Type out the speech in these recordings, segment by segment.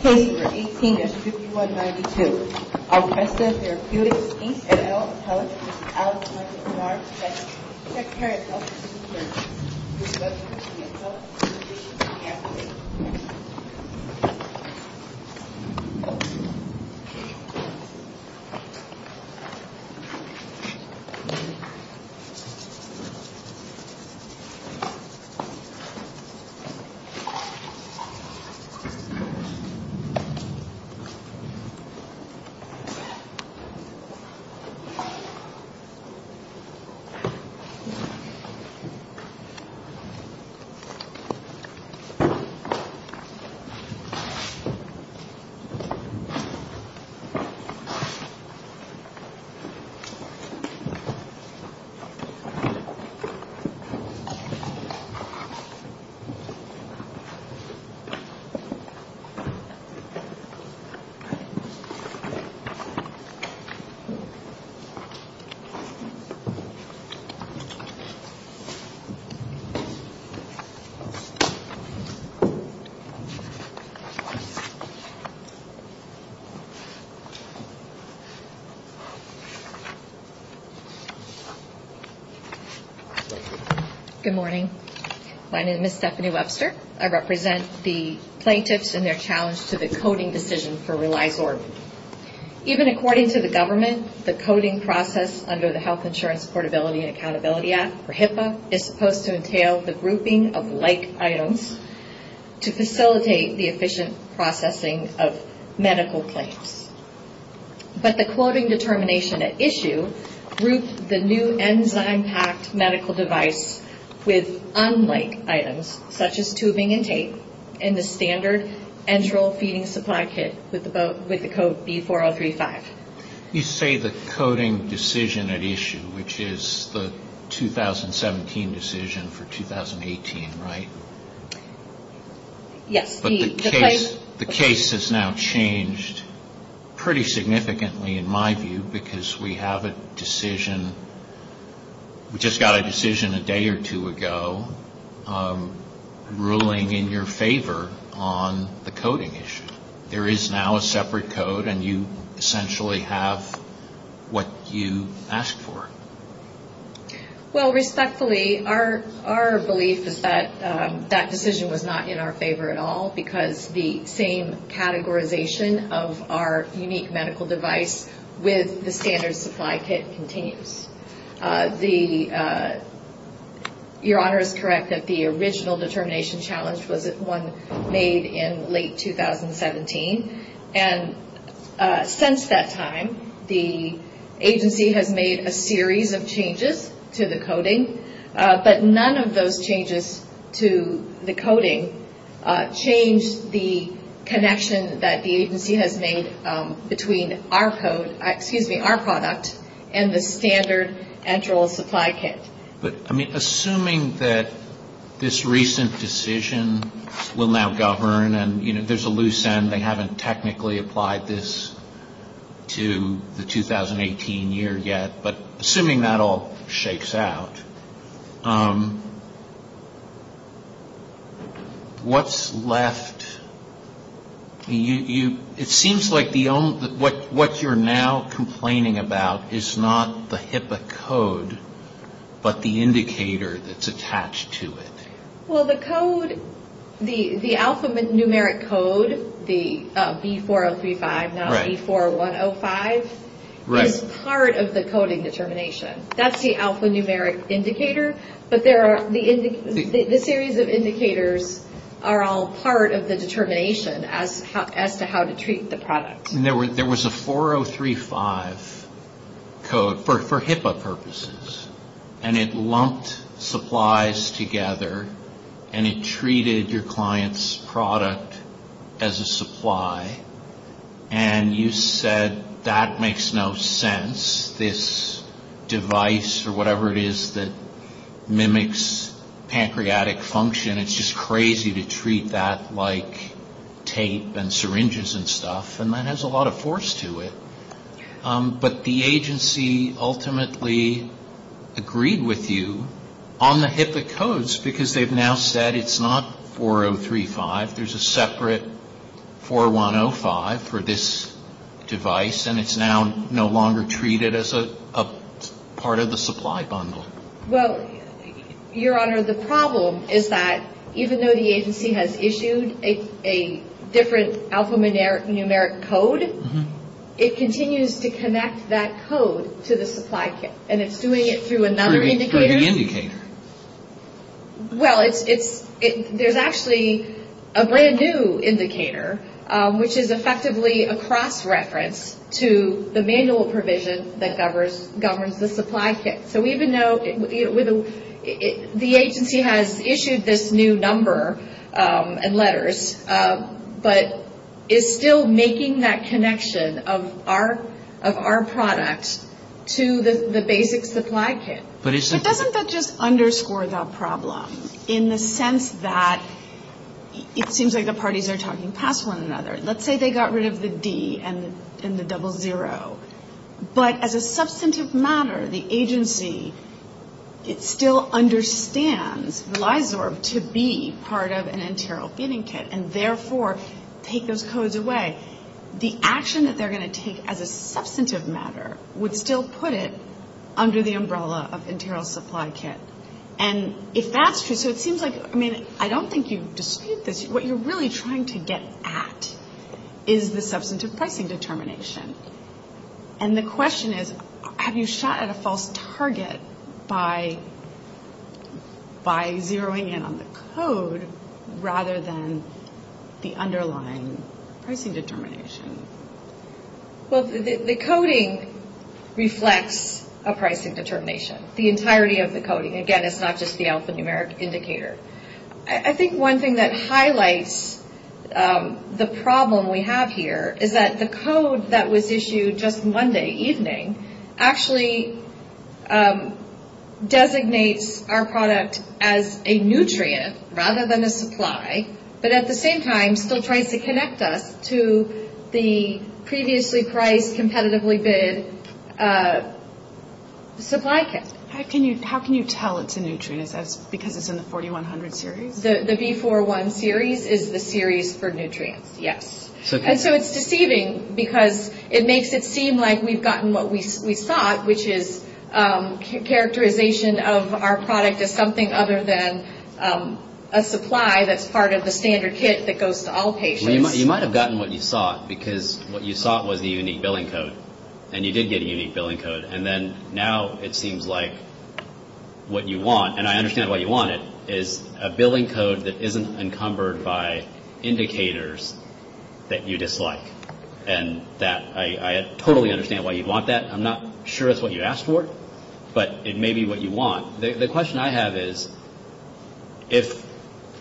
Katie, for 18S5192, Alcresta Therapeutics, Inc. and Alex Azar, II, Secretary of Health and Human Services. Alcresta Therapeutics, Inc. Good morning. My name is Stephanie Webster. I represent the plaintiffs and their challenge to the coding decision for reliable organs. Even according to the government, the coding process under the Health Insurance Portability and Accountability Act, or HIPAA, is supposed to entail the grouping of like items to facilitate the efficient processing of medical claims. But the coding determination at issue groups the new enzyme-packed medical device with unlike items, such as tubing and tape, and the standard enteral feeding supply kit with the code B4035. You say the coding decision at issue, which is the 2017 decision for 2018, right? Yes. The case has now changed pretty significantly in my view because we have a decision, we just got a decision a day or two ago ruling in your favor on the coding issue. There is now a separate code and you essentially have what you asked for. Well, respectfully, our belief is that that decision was not in our favor at all because the same categorization of our unique medical device with the standard supply kit continues. Your Honor is correct that the original determination challenge was this one made in late 2017. And since that time, the agency has made a series of changes to the coding, but none of those changes to the coding changed the connection that the agency has made between our code, excuse me, our product and the standard enteral supply kit. But, I mean, assuming that this recent decision will now govern and, you know, there's a loose end, they haven't technically applied this to the 2018 year yet, but assuming that all shakes out, what's left? It seems like what you're now complaining about is not the HIPAA code, but the indicator that's attached to it. Well, the code, the alphanumeric code, the B4035, not B4105, is part of the coding determination. That's the alphanumeric indicator, but the series of indicators are all part of the determination as to how to treat the product. There was a 4035 code for HIPAA purposes, and it lumped supplies together, and it treated your client's product as a supply, and you said that makes no sense. This device or whatever it is that mimics pancreatic function, it's just crazy to treat that like tape and syringes and stuff, and that has a lot of force to it. But the agency ultimately agreed with you on the HIPAA codes, because they've now said it's not 4035, there's a separate 4105 for this device, and it's now no longer treated as a part of the supply bundle. Well, Your Honor, the problem is that even though the agency has issued a different alphanumeric code, it continues to connect that code to the supply chain, and it's doing it through another indicator? Well, there's actually a brand-new indicator, which is effectively a cross-reference to the manual provision that governs the supply chain. So even though the agency has issued this new number and letters, but it's still making that connection of our product to the basic supply chain. But doesn't that just underscore the problem, in the sense that it seems like the parties are talking past one another? Let's say they got rid of the D and the double zero, but as a substantive matter, the agency still understands to be part of an internal feeding kit, and therefore take those codes away. The action that they're going to take as a substantive matter would still put it under the umbrella of internal supply kit. And if that's true, so it seems like, I mean, I don't think you dispute this. What you're really trying to get at is the substantive pricing determination. And the question is, have you shot at a false target by zeroing in on the code, rather than the underlying pricing determination? Well, the coding reflects a pricing determination, the entirety of the coding. Again, it's not just the alphanumeric indicator. I think one thing that highlights the problem we have here is that the code that was issued just Monday evening actually designates our product as a nutrient rather than a supply, but at the same time still tries to connect us to the previously priced, competitively bid supply kit. How can you tell it's a nutrient, because it's in the 4100 series? The V41 series is the series for nutrients, yes. And so it's deceiving, because it makes it seem like we've gotten what we've sought, which is characterization of our product as something other than a supply that's part of the standard kit that goes to all patients. You might have gotten what you sought, because what you sought was a unique billing code. And you did get a unique billing code. And then now it seems like what you want, and I understand why you want it, is a billing code that isn't encumbered by indicators that you dislike. And I totally understand why you'd want that. I'm not sure that's what you asked for, but it may be what you want. The question I have is, if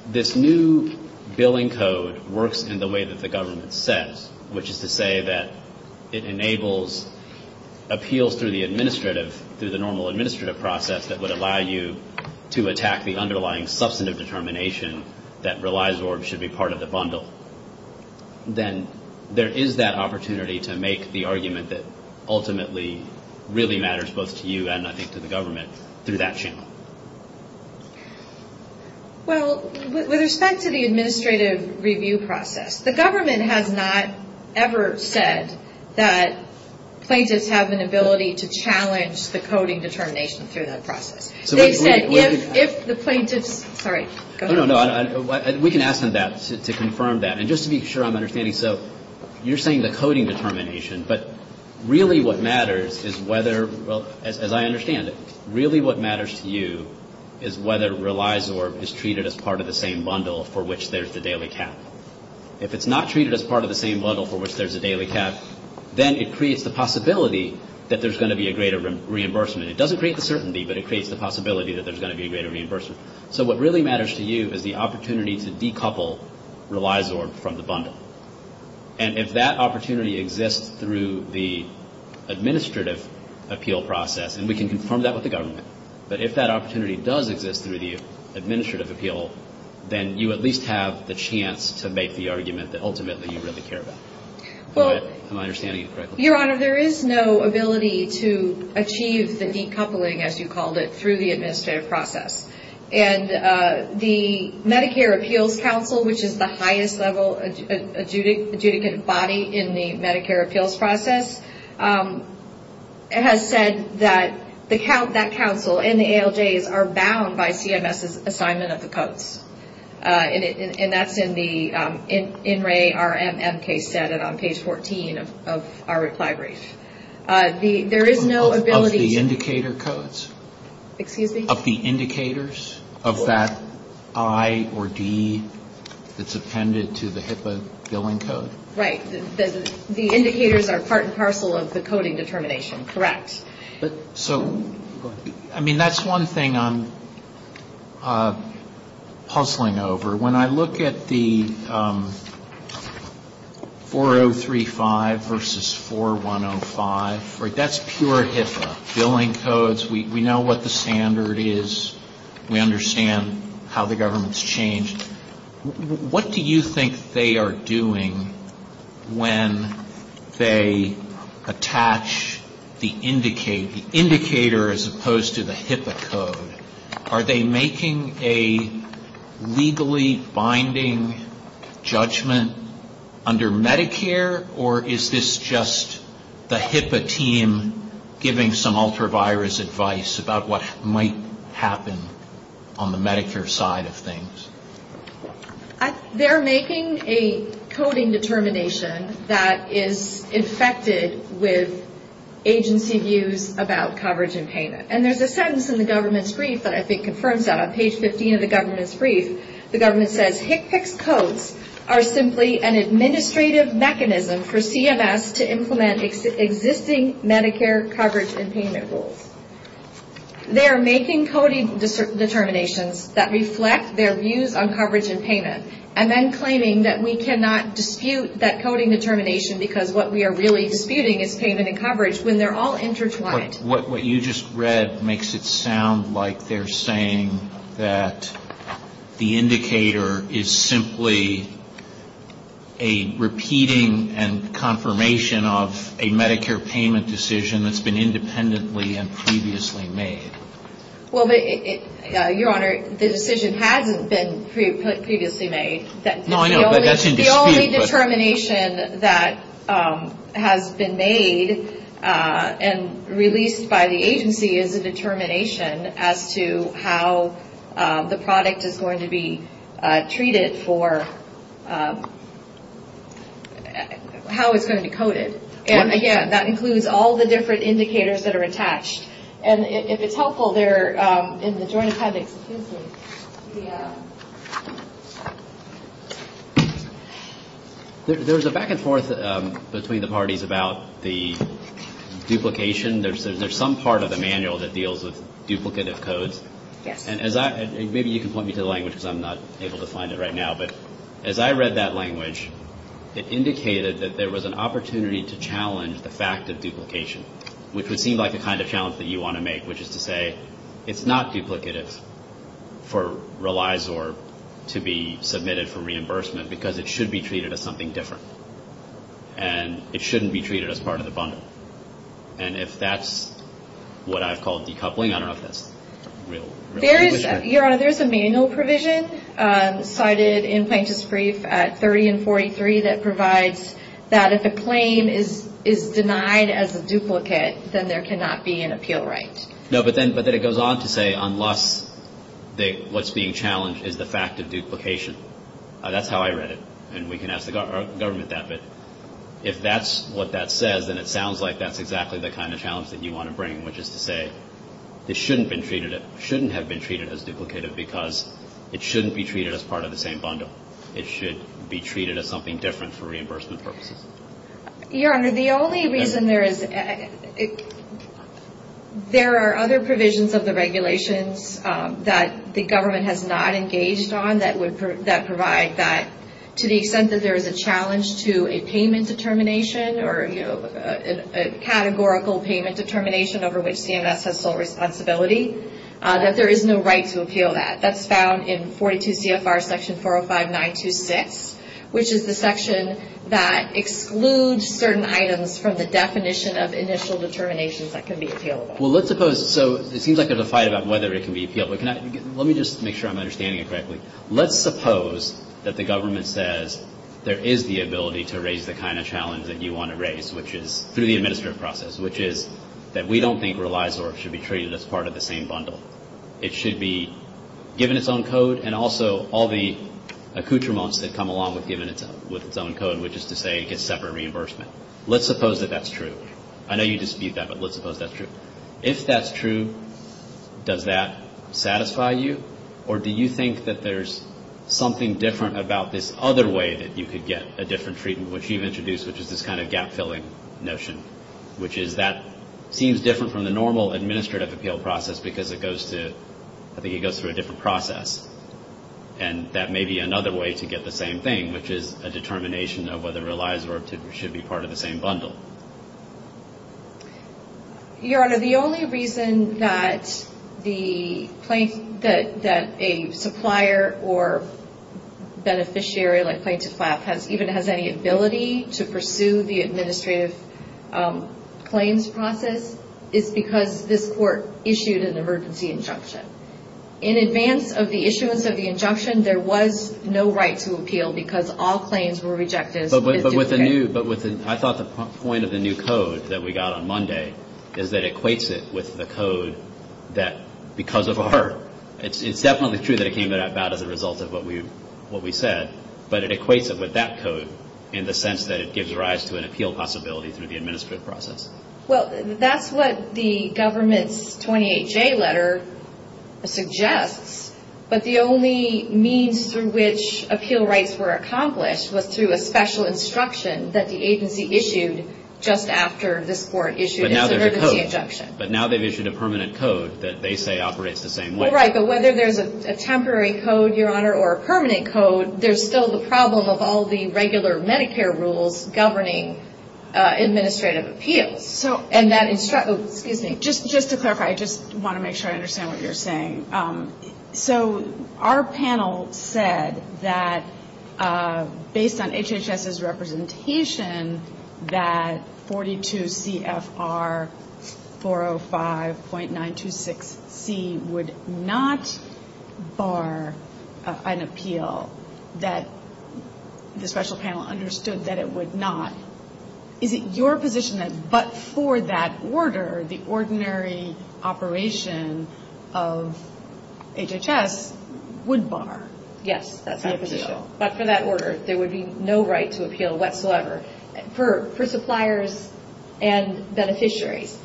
this new billing code works in the way that the government says, which is to say that it enables appeals through the normal administrative process that would allow you to attack the underlying substantive determination that Relizorb should be part of the bundle, then there is that opportunity to make the argument that ultimately really matters both to you and, I think, to the government through that channel. Well, with respect to the administrative review process, the government has not ever said that plaintiffs have an ability to challenge the coding determination through that process. We can ask them that to confirm that. And just to be sure I'm understanding, so you're saying the coding determination, but really what matters is whether, as I understand it, really what matters to you is whether Relizorb is treated as part of the same bundle for which there's the daily cap. If it's not treated as part of the same bundle for which there's the daily cap, then it creates the possibility that there's going to be a greater reimbursement. It doesn't create the certainty, but it creates the possibility that there's going to be a greater reimbursement. So what really matters to you is the opportunity to decouple Relizorb from the bundle. And if that opportunity exists through the administrative appeal process, and we can confirm that with the government, but if that opportunity does exist through the administrative appeal, then you at least have the chance to make the argument that ultimately you really care about. Am I understanding you correctly? Your Honor, there is no ability to achieve the decoupling, as you called it, through the administrative process. And the Medicare Appeals Council, which is the highest level adjudicant body in the Medicare appeals process, has said that that council and the ALJs are bound by CMS's assignment of the codes. And that's in the INRAE RMM case data on page 14 of IRIPS libraries. There is no ability... Of the indicator codes? Excuse me? Of the indicators of that I or D that's appended to the HIPAA billing code? Right. The indicators are part and parcel of the coding determination. Correct. So, I mean, that's one thing I'm puzzling over. When I look at the 4035 versus 4105, that's pure HIPAA. Billing codes, we know what the standard is. We understand how the government's changed. What do you think they are doing when they attach the indicator, as opposed to the HIPAA code? Are they making a legally binding judgment under Medicare, or is this just the HIPAA team giving some ultra-virus advice about what might happen on the Medicare side of things? They're making a coding determination that is infected with agency views about coverage and payment. And there's a sentence in the government's brief that I think confirms that. On page 15 of the government's brief, the government says, HIPAA codes are simply an administrative mechanism for CMS to implement existing Medicare coverage and payment rules. They are making coding determinations that reflect their views on coverage and payment, and then claiming that we cannot dispute that coding determination because what we are really disputing is payment and coverage when they're all intertwined. What you just read makes it sound like they're saying that the indicator is simply a repeating and confirmation of a Medicare payment decision that's been independently and previously made. Well, Your Honor, the decision hasn't been previously made. The only determination that has been made and released by the agency is the determination as to how the product is going to be treated for how it's going to be coded. And again, that includes all the different indicators that are attached. And if it's helpful, there is a joint subject dispute. There was a back and forth between the parties about the duplication. There's some part of the manual that deals with duplicative codes. And maybe you can point me to the language because I'm not able to find it right now. But as I read that language, it indicated that there was an opportunity to challenge the fact of duplication, which would seem like the kind of challenge that you want to make, which is to say it's not duplicative for relies or to be submitted for reimbursement because it should be treated as something different. And it shouldn't be treated as part of the bundle. And if that's what I call decoupling, I don't know if that's real. Your Honor, there's a manual provision cited in Sanctus Brief 30 and 43 that provides that if a claim is denied as a duplicate, then there cannot be an appeal right. No, but then it goes on to say unless what's being challenged is the fact of duplication. That's how I read it. And we can ask the government that. But if that's what that says and it sounds like, that's exactly the kind of challenge that you want to bring, which is to say it shouldn't have been treated as duplicative because it shouldn't be treated as part of the same bundle. It should be treated as something different for reimbursement purposes. Your Honor, the only reason there is, there are other provisions of the regulations that the government has not engaged on that provide that to the extent that there is a challenge to a payment determination or a categorical payment determination over which CMS has full responsibility, that there is no right to appeal that. That's found in 42 CFR section 405926, which is the section that excludes certain items from the definition of initial determinations that can be appealed. Well, let's suppose, so it seems like there's a fight about whether it can be appealed. Let me just make sure I'm understanding it correctly. Let's suppose that the government says there is the ability to raise the kind of challenge that you want to raise, which is through the administrative process, which is that we don't think relies or should be treated as part of the same bundle. It should be given its own code and also all the accoutrements that come along with its own code, which is to say it gets separate reimbursement. Let's suppose that that's true. I know you just did that, but let's suppose that's true. If that's true, does that satisfy you, or do you think that there's something different about this other way that you could get a different treatment, which you've introduced, which is this kind of gap-filling notion, which is that seems different from the normal administrative appeal process because it goes to, I think it goes through a different process. And that may be another way to get the same thing, which is a determination of whether it relies or should be part of the same bundle. Your Honor, the only reason that a supplier or beneficiary, like Scientist Lab, even has any ability to pursue the administrative claims process is because this court issued an emergency injunction. In advance of the issuance of the injunction, there was no right to appeal because all claims were rejected. But I thought the point of the new code that we got on Monday is that it equates it with the code that because of a hurt. It's definitely true that it came about as a result of what we said, but it equates it with that code in the sense that it gives rise to an appeal possibility through the administrative process. Well, that's what the government's 28-J letter suggests, but the only means through which appeal rights were accomplished was through a special instruction that the agency issued just after this court issued an emergency injunction. But now they've issued a permanent code that they say operates the same way. That's right, but whether there's a temporary code, Your Honor, or a permanent code, there's still the problem of all the regular Medicare rules governing administrative appeals. Just to clarify, I just want to make sure I understand what you're saying. So, our panel said that based on HHS's representation, that 42 CFR 405.926C would not bar an appeal, that the special panel understood that it would not. Is it your position that but for that order, the ordinary operation of HHS would bar? Yes, that's my position. But for that order, there would be no right to appeal whatsoever for suppliers and beneficiaries.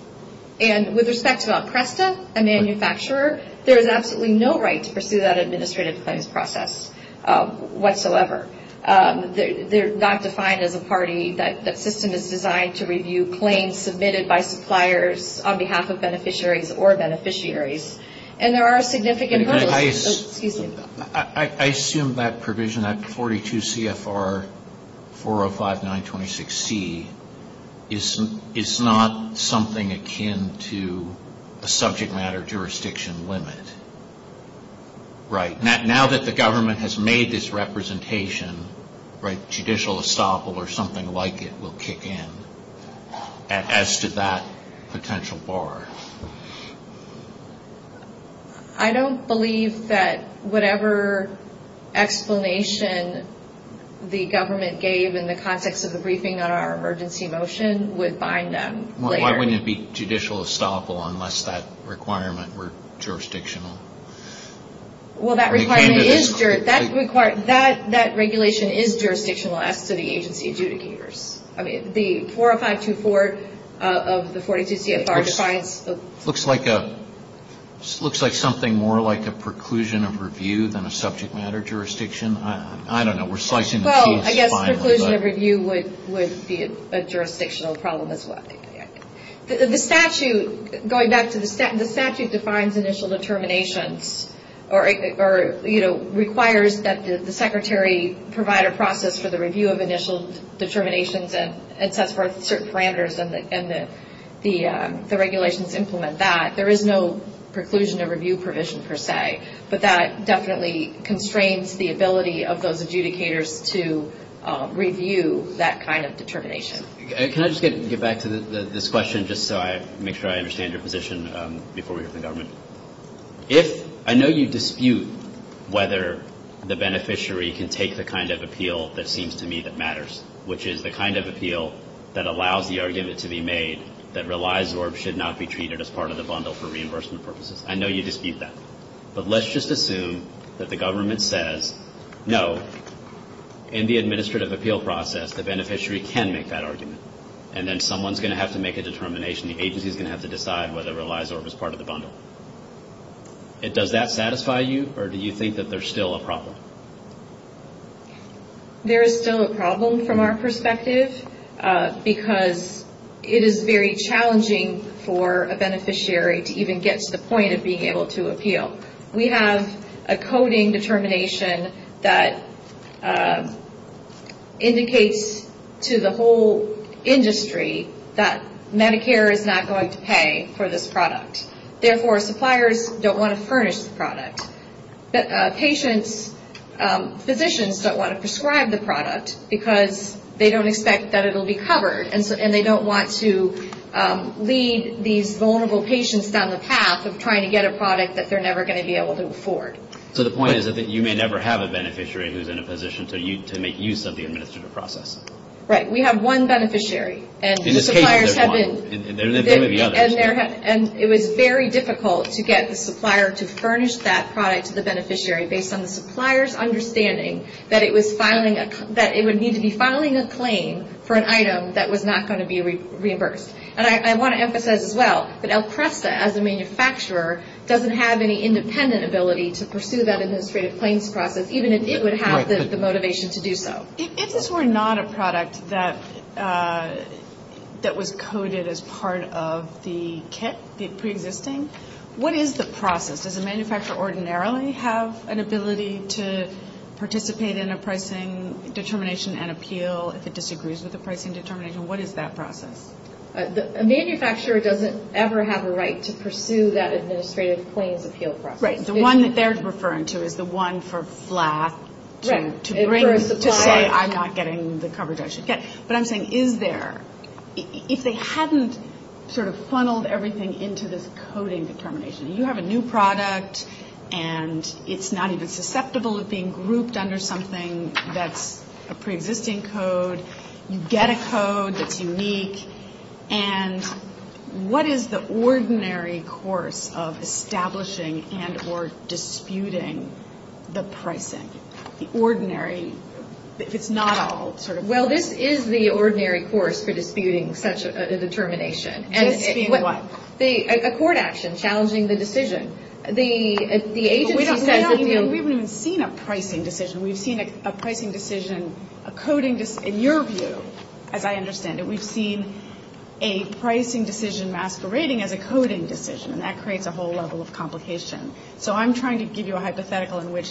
And with respect to Alcresta, a manufacturer, there is absolutely no right to pursue that administrative claims process whatsoever. They're not defined as a party. That system is designed to review claims submitted by suppliers on behalf of beneficiaries or beneficiaries. And there are significant... I assume that provision, that 42 CFR 405.926C, is not something akin to a subject matter jurisdiction limit. Right. Now that the government has made this representation, judicial estoppel or something like it will kick in as to that potential bar. I don't believe that whatever explanation the government gave in the context of the briefing on our emergency motion would bind them. Why wouldn't it be judicial estoppel unless that requirement were jurisdictional? Well, that requirement is... That regulation is jurisdictional as to the agency adjudicators. I mean, the 405.24 of the 42 CFR defines... Looks like something more like a preclusion of review than a subject matter jurisdiction. I don't know. We're slicing and chopping. I guess preclusion of review would be a jurisdictional problem as well. The statute, going back to the statute, defines initial determinations or requires that the secretary provide a process for the review of initial determinations and test for certain parameters and the regulations implement that. There is no preclusion of review provision per se, but that definitely constrains the ability of those adjudicators to review that kind of determination. Can I just get back to this question just so I make sure I understand your position before we go to the government? I know you dispute whether the beneficiary can take the kind of appeal that seems to me that matters, which is the kind of appeal that allows the argument to be made that relies or should not be treated as part of the bundle for reimbursement purposes. I know you dispute that, but let's just assume that the government says, no, in the administrative appeal process the beneficiary can make that argument and then someone's going to have to make a determination. The agency's going to have to decide whether it relies or is part of the bundle. Does that satisfy you or do you think that there's still a problem? There is still a problem from our perspective because it is very challenging for a beneficiary to even get to the point of being able to appeal. We have a coding determination that indicates to the whole industry that Medicare is not going to pay for this product. Therefore, suppliers don't want to furnish this product. Patients, physicians don't want to prescribe the product because they don't expect that it will be covered and they don't want to lead these vulnerable patients down the path of trying to get a product that they're never going to be able to afford. The point is that you may never have a beneficiary who's in a position to make use of the administrative process. Right. We have one beneficiary. In this case, there's one. It was very difficult to get the supplier to furnish that product to the beneficiary based on the supplier's understanding that it would need to be filing a claim for an item that was not going to be reimbursed. I want to emphasize as well that El Presta, as a manufacturer, doesn't have any independent ability to pursue that administrative claim process even if it would have the motivation to do so. If this were not a product that was coded as part of the kit preexisting, what is the process? Does the manufacturer ordinarily have an ability to participate in a pricing determination and appeal if it disagrees with the pricing determination? What is that process? A manufacturer doesn't ever have a right to pursue that administrative claims appeal process. Right. The one that they're referring to is the one for FLAC. I'm not getting the coverage I should get. What I'm saying is there. If they hadn't sort of funneled everything into this coding determination, you have a new product and it's not even susceptible of being grouped under something that's a preexisting code. You get a code that's unique. And what is the ordinary course of establishing and or disputing the pricing? The ordinary. It's not a whole sort of course. Well, this is the ordinary course for disputing such a determination. This being what? A court action challenging the decision. We don't even see a pricing decision. We've seen a pricing decision, a coding decision. In your view, as I understand it, we've seen a pricing decision masquerading as a coding decision. And that creates a whole level of complication. So I'm trying to give you a hypothetical in which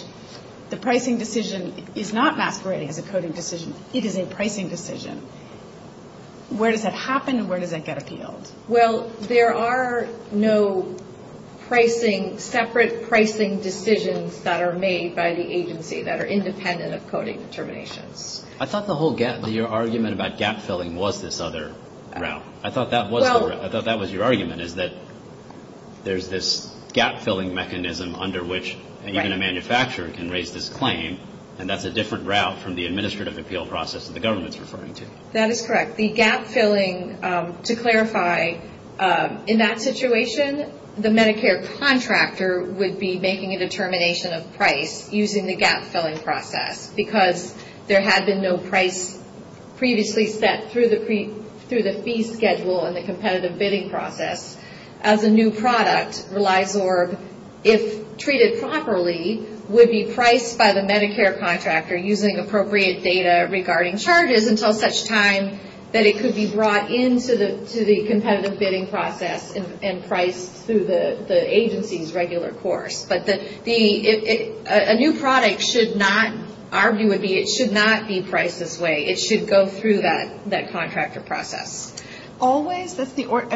the pricing decision is not masquerading as a coding decision. It is a pricing decision. Where does that happen and where does that get appealed? Well, there are no pricing, separate pricing decisions that are made by the agency that are independent of coding determination. I thought the whole gap, your argument about gap filling was this other route. I thought that was your argument is that there's this gap filling mechanism under which even a manufacturer can raise this claim. And that's a different route from the administrative appeal process that the government is referring to. That is correct. The gap filling, to clarify, in that situation, the Medicare contractor would be making a determination of price using the gap filling process because there had been no price previously set through the fee schedule in the competitive bidding process. As a new product, ReliGorb, if treated properly, would be priced by the Medicare contractor using appropriate data regarding charges until such time that it could be brought into the competitive bidding process and priced through the agency's regular course. A new product should not, arguably, it should not be priced this way. It should go through that contractor process. Always, I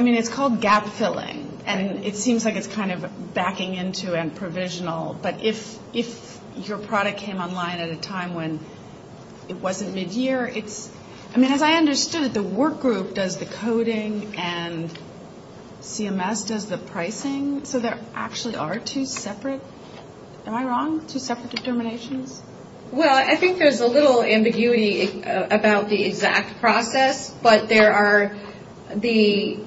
mean, it's called gap filling. And it seems like it's kind of backing into and provisional. But if your product came online at a time when it wasn't mid-year, I mean, as I understood it, the work group does the coding and CMS does the pricing. So there actually are two separate, am I wrong, two separate determinations? Well, I think there's a little ambiguity about the exact process. But there are the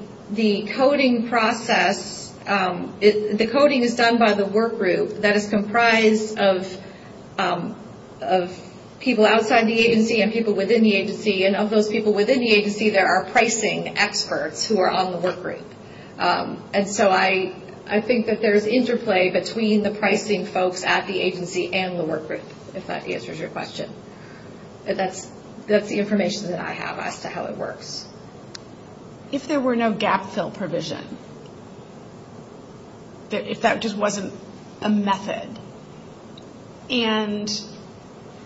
coding process. The coding is done by the work group that is comprised of people outside the agency and people within the agency. And of those people within the agency, there are pricing experts who are on the work group. And so I think that there is interplay between the pricing folks at the agency and the work group, if that answers your question. But that's the information that I have as to how it works. If there were no gap fill provision, if that just wasn't a method, and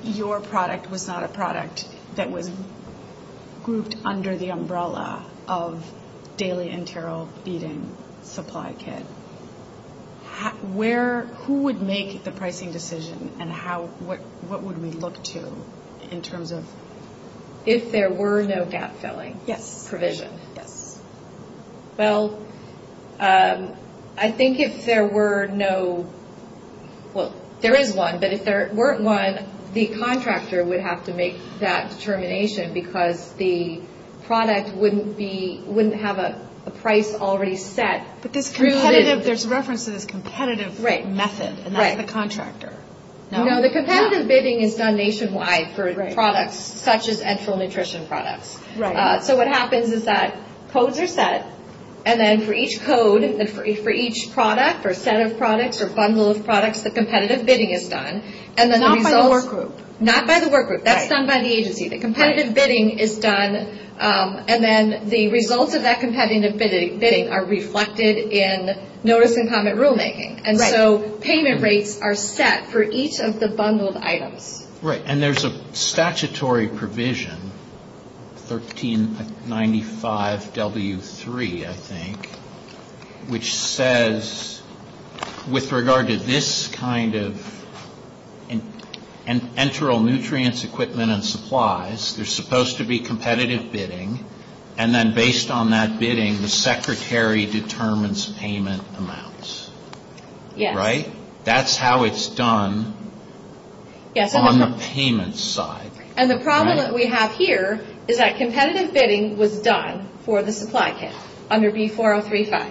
your product was not a product that was grouped under the umbrella of daily and general feeding supply kit, who would make the pricing decision and what would we look to in terms of? If there were no gap filling. Yes. Provision. Yes. Well, I think if there were no, well, there is one. But if there weren't one, the contractor would have to make that determination because the product wouldn't have a price already set. But there's reference to this competitive method. Right. And that's the contractor. No, the competitor's bidding is done nationwide for a product such as enteral nutrition products. Right. So what happens is that codes are set, and then for each code, for each product or set of products or bundle of products, the competitive bidding is done. Not by the work group. Not by the work group. That's done by the agency. The competitive bidding is done, and then the results of that competitive bidding are reflected in notice and comment rulemaking. Right. And so payment rates are set for each of the bundled items. Right. And there's a statutory provision, 1395W3, I think, which says with regard to this kind of enteral nutrients equipment and supplies, there's supposed to be competitive bidding, and then based on that bidding, the secretary determines payment amounts. Right? That's how it's done on the payment side. And the problem that we have here is that competitive bidding was done for the supply kit under B4035.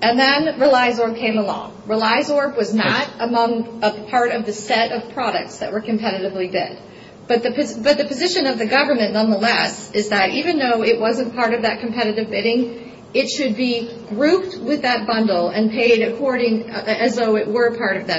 And then RELIZOR came along. RELIZOR was not among a part of the set of products that were competitively bid. But the position of the government, nonetheless, is that even though it wasn't part of that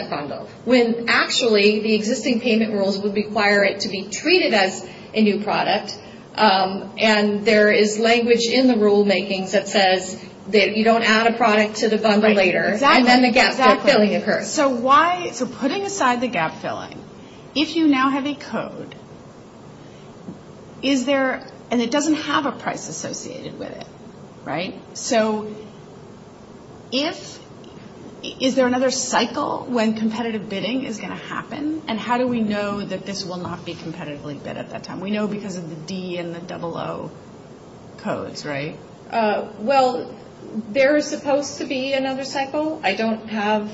bundle, when actually the existing payment rules would require it to be treated as a new product, and there is language in the rulemaking that says that you don't add a product to the bundle later, and then the gap filling occurs. So why, for putting aside the gap filling, if you now have a code, is there, and it doesn't have a price associated with it. Right? So if, is there another cycle when competitive bidding is going to happen, and how do we know that this will not be competitively bid at that time? We know because of the D and the double O codes, right? Well, there is supposed to be another cycle. I don't have,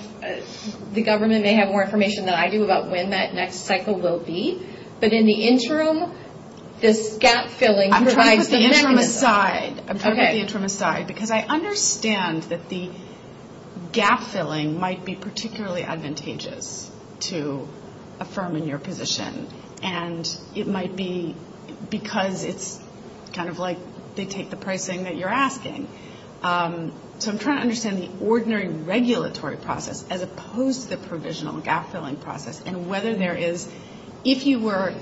the government may have more information than I do about when that next cycle will be. But in the interim, this gap filling provides the interim. I'm going to put the interim aside because I understand that the gap filling might be particularly advantageous to a firm in their position. And it might be because it's kind of like they take the pricing that you're asking. So I'm trying to understand the ordinary regulatory process as opposed to the provisional gap So the question there is, if you were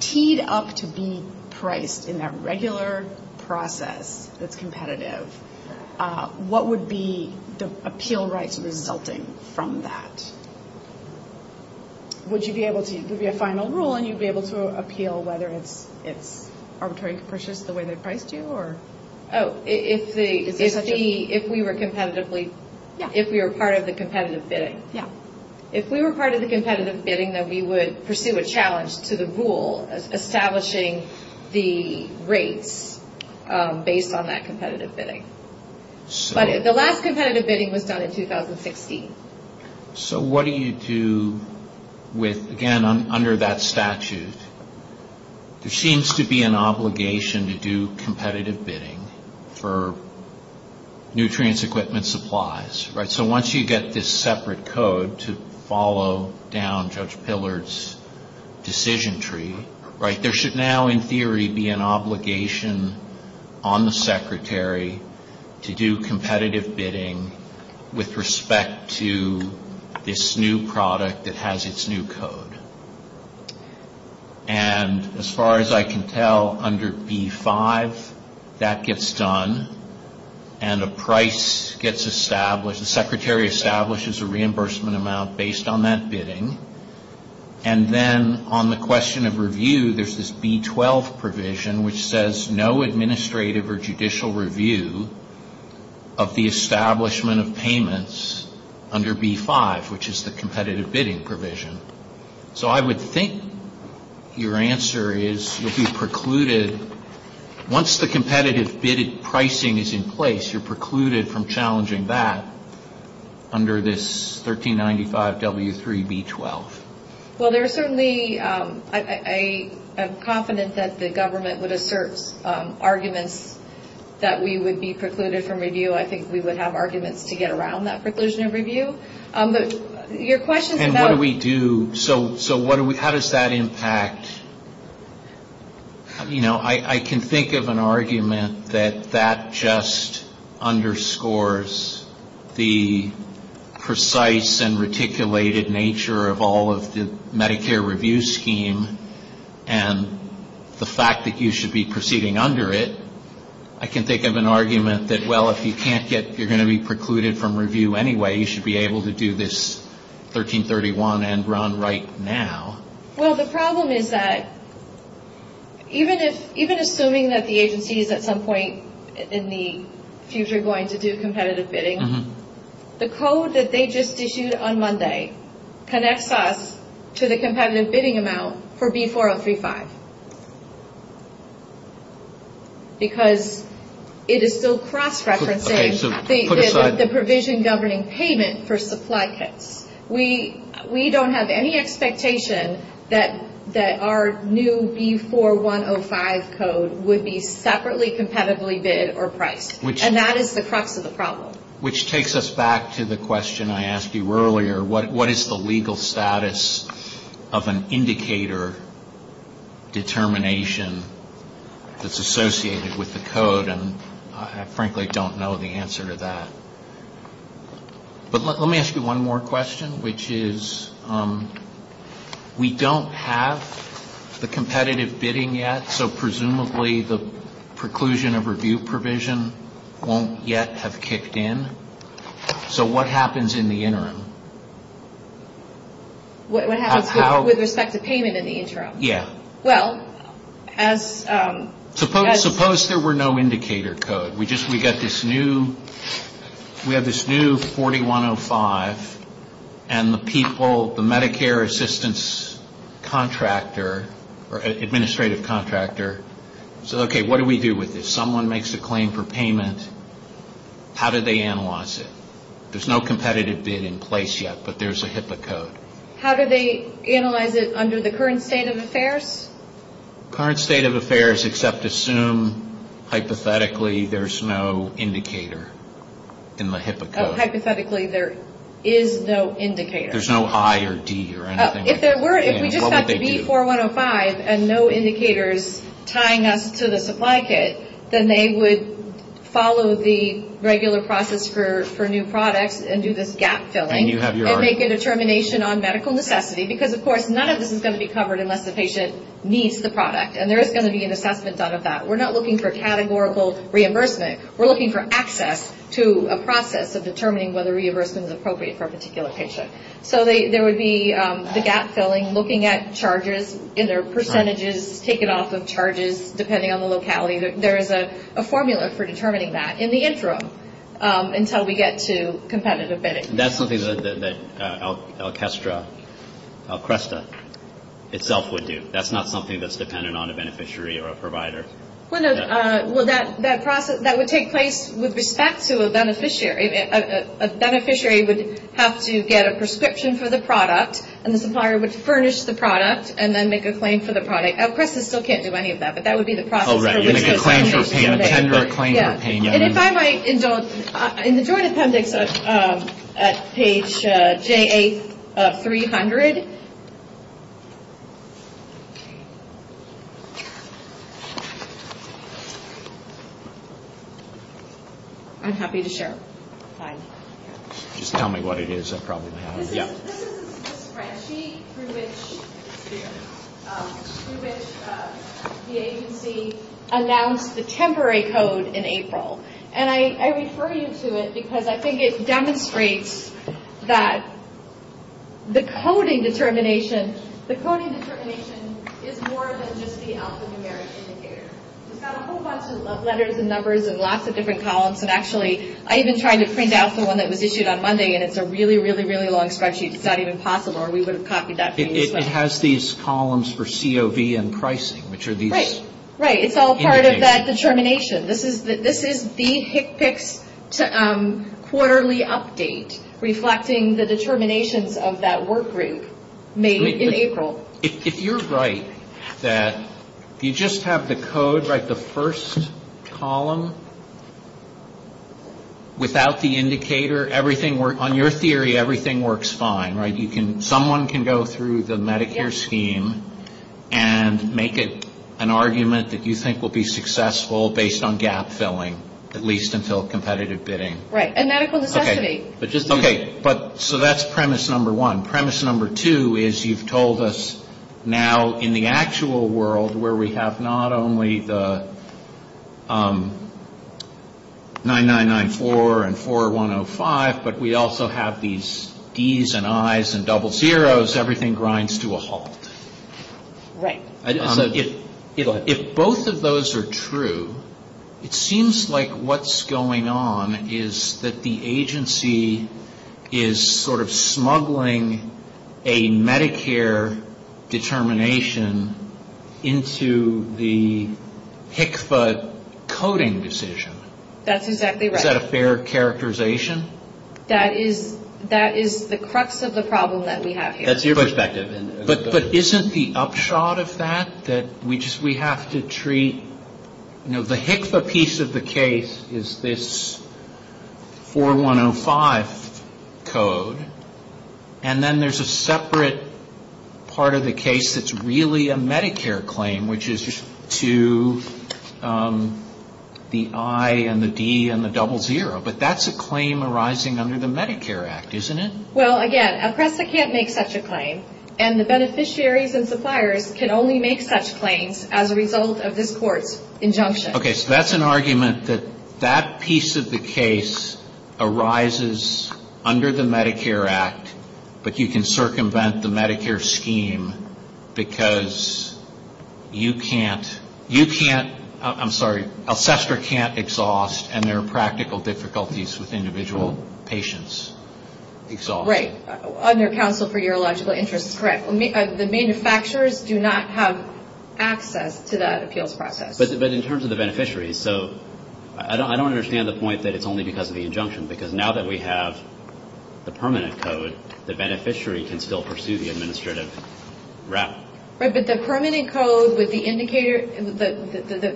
keyed up to be priced in that regular process that's competitive, what would be the appeal rights resulting from that? Would you be able to, would be a final rule and you'd be able to appeal whether it's arbitrary purchase the way they priced you or? Oh, if the, if we were competitively, if we were part of the competitive bidding. Yeah. If we were part of the competitive bidding, then we would pursue a challenge to the rule establishing the rate based on that competitive bidding. But the last competitive bidding was done in 2016. So what do you do with, again, under that statute, there seems to be an obligation to do competitive bidding for nutrients, equipment, supplies, right? So once you get this separate code to follow down Judge Pillard's decision tree, right, there should now in theory be an obligation on the secretary to do competitive bidding with respect to this new product that has its new code. And as far as I can tell under B5, that gets done and a price gets established. The secretary establishes a reimbursement amount based on that bidding. And then on the question of review, there's this B12 provision which says no administrative or judicial review of the establishment of payments under B5, which is the competitive bidding provision. So I would think your answer is once the competitive bidding pricing is in place, you're precluded from challenging that under this 1395W3B12. Well, I'm confident that the government would assert arguments that we would be precluded from review. I think we would have arguments to get around that preclusion of review. And what do we do? So how does that impact? You know, I can think of an argument that that just underscores the precise and reticulated nature of all of the Medicare review scheme and the fact that you should be proceeding under it. I can think of an argument that, well, if you can't get, you're going to be precluded from review anyway. You should be able to do this 1331 and run right now. Well, the problem is that even assuming that the agency is at some point in the future going to do competitive bidding, the code that they just issued on Monday connects us to the competitive bidding amount for B4035. Because it is still cross-referencing the provision governing payment for supply kits. We don't have any expectation that our new B4105 code would be separately competitively bid or priced. And that is the crux of the problem. Which takes us back to the question I asked you earlier. What is the legal status of an indicator determination that's associated with the code? And I frankly don't know the answer to that. But let me ask you one more question, which is we don't have the competitive bidding yet, so presumably the preclusion of review provision won't yet have kicked in. So what happens in the interim? What happens with respect to payment in the interim? Yeah. Well, as... Suppose there were no indicator code. We just, we got this new, we have this new 4105 and the people, the Medicare assistance contractor or administrative contractor said, okay, what do we do with this? If someone makes a claim for payment, how do they analyze it? There's no competitive bid in place yet, but there's a HIPAA code. How do they analyze it under the current state of affairs? Current state of affairs except assume hypothetically there's no indicator in the HIPAA code. Hypothetically there is no indicator. There's no I or D or anything. If there were, if we just had the 4105 and no indicators tying us to the supply kit, then they would follow the regular process for new products and do this gap filling. And you have your argument. And make a determination on medical necessity, because of course none of this is going to be covered unless the patient needs the product, and there is going to be a necessity set of that. We're not looking for categorical reimbursement. We're looking for access to a process of determining whether reimbursement is appropriate for a particular patient. So there would be the gap filling, looking at charges, either percentages taken off of charges, depending on the locality. There is a formula for determining that in the interim until we get to competitive bidding. That's something that Alcresta itself would do. That's not something that's dependent on a beneficiary or a provider. Well, that process, that would take place with respect to a beneficiary. A beneficiary would have to get a prescription for the product, and the supplier would furnish the product and then make a claim for the product. Alcresta still can't do any of that, but that would be the process. Oh, right. Make a claim for payment, tender a claim for payment. And if I might indulge in the joint appendix at page J8-300. I'm happy to share. Fine. Just tell me what it is. I'll probably know. It's a spreadsheet through which the agency announced the temporary code in April. And I refer you to it because I think it demonstrates that the coding determination is more than just the Office of American Care. We've got a whole bunch of letters and numbers and lots of different columns. I even tried to print out the one that was issued on Monday, and it's a really, really, really long spreadsheet. It's not even possible, or we would have copied that. It has these columns for COV and pricing, which are these- Right. It's all part of that determination. This is the HCPCS quarterly update reflecting the determinations of that work group made in April. If you're right that you just have the code, like the first column, without the indicator, on your theory, everything works fine. Someone can go through the Medicare scheme and make an argument that you think will be successful based on gap filling, at least until competitive bidding. Right. And medical necessity. Okay. So, that's premise number one. Premise number two is you've told us now in the actual world where we have not only the 9994 and 4105, but we also have these Es and Is and double zeros, everything grinds to a halt. Right. If both of those are true, it seems like what's going on is that the agency is sort of smuggling a Medicare determination into the HCFA coding decision. That's exactly right. Is that a fair characterization? That is the crux of the problem that we have here. That's your perspective. But isn't the upshot of that that we have to treat-the HCFA piece of the case is this 4105 code, and then there's a separate part of the case that's really a Medicare claim, which is to the I and the D and the double zero. But that's a claim arising under the Medicare Act, isn't it? Well, again, a prescient can't make such a claim. And the beneficiaries and suppliers can only make such claims as a result of this court's injunction. Okay. So, that's an argument that that piece of the case arises under the Medicare Act, but you can circumvent the Medicare scheme because you can't-I'm sorry. The assessor can't exhaust, and there are practical difficulties with individual patients' exhaust. Right. Under counsel for urological interest, correct. The manufacturers do not have access to that appeals process. But in terms of the beneficiaries, so I don't understand the point that it's only because of the injunction, because now that we have the permanent code, the beneficiary can still pursue the administrative rep. Right, but the permanent code with the indicator-the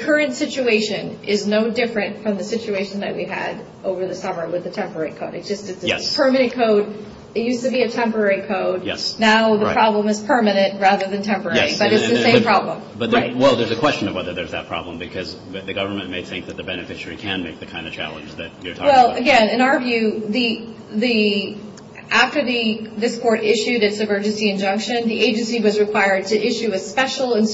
current situation is no different from the situation that we had over the summer with the temporary code. It's just that the permanent code, it used to be a temporary code. Yes. Now the problem is permanent rather than temporary. Right. But it's the same problem. Right. Well, there's a question of whether there's that problem because the government may think that the beneficiary can meet the kind of challenge that you're talking about. Well, again, in our view, after this court issued its emergency injunction, the agency was required to issue a special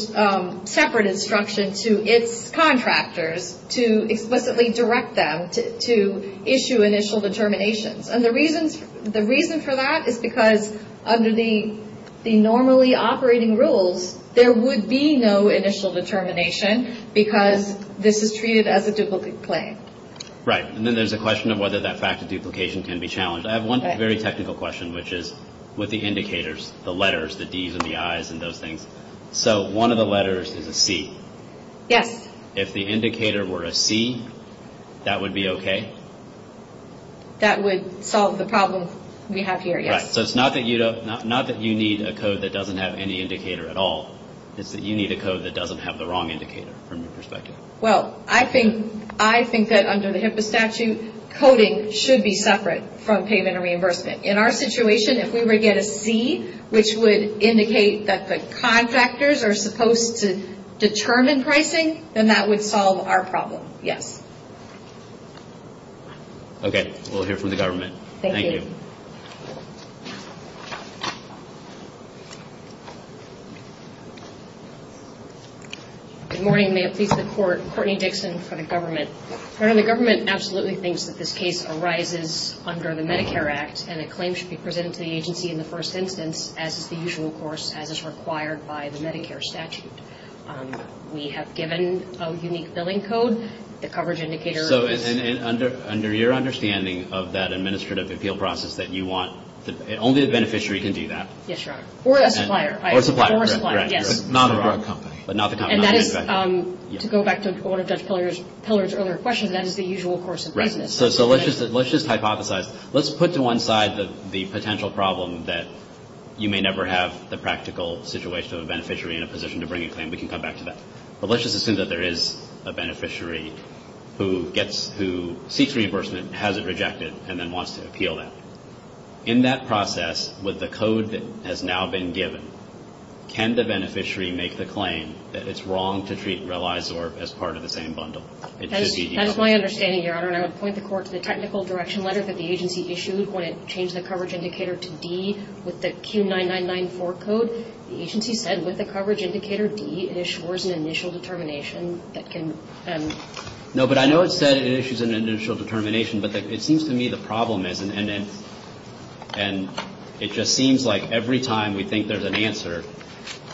separate instruction to its contractors to explicitly direct them to issue initial determinations. And the reason for that is because under the normally operating rules, there would be no initial determination because this is treated as a duplicate claim. Right. And then there's the question of whether that fact of duplication can be challenged. I have one very technical question, which is with the indicators, the letters, the Ds and the Is and those things. So, one of the letters is a C. Yes. If the indicator were a C, that would be okay? That would solve the problem we have here, yes. Right. So, it's not that you need a code that doesn't have any indicator at all. It's that you need a code that doesn't have the wrong indicator from your perspective. Well, I think that under the HIPAA statute, coding should be separate from payment or reimbursement. In our situation, if we were to get a C, which would indicate that the contractors are supposed to determine pricing, then that would solve our problem. Yes. Okay. We'll hear from the government. Thank you. Good morning. Good morning. May it please the Court. Courtney Dixon for the government. The government absolutely thinks that this case arises under the Medicare Act, and it claims to be presented to the agency in the first instance as is the usual course, as is required by the Medicare statute. We have given a unique billing code. The coverage indicator... So, under your understanding of that administrative appeal process that you want, only the beneficiary can do that. Yes, Your Honor. Or a supplier. Or a supplier. Or a supplier, yes. But not the company. And that is, to go back to what I said to Pillar's earlier question, that is the usual course of business. Right. So, let's just hypothesize. Let's put to one side the potential problem that you may never have the practical situation of a beneficiary in a position to bring a claim. We can come back to that. But let's just assume that there is a beneficiary who seeks reimbursement, has it rejected, and then wants to appeal that. In that process, with the code that has now been given, can the beneficiary make the claim that it's wrong to treat Relizor as part of the same bundle? That is my understanding, Your Honor. I would point the Court to the technical direction letter that the agency issued when it changed the coverage indicator to D with the Q9994 code. The agency said with the coverage indicator D, it issues an initial determination that can... No, but I know it says it issues an initial determination, but it seems to me the problem is, and it just seems like every time we think there's an answer,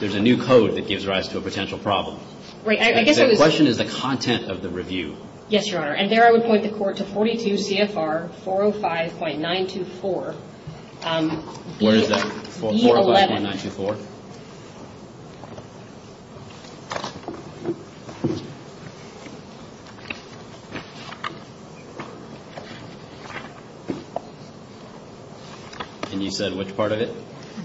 there's a new code that gives rise to a potential problem. The question is the content of the review. Yes, Your Honor. And there I would point the Court to 42 CFR 405.924. Where is that? 445.924. And you said which part of it?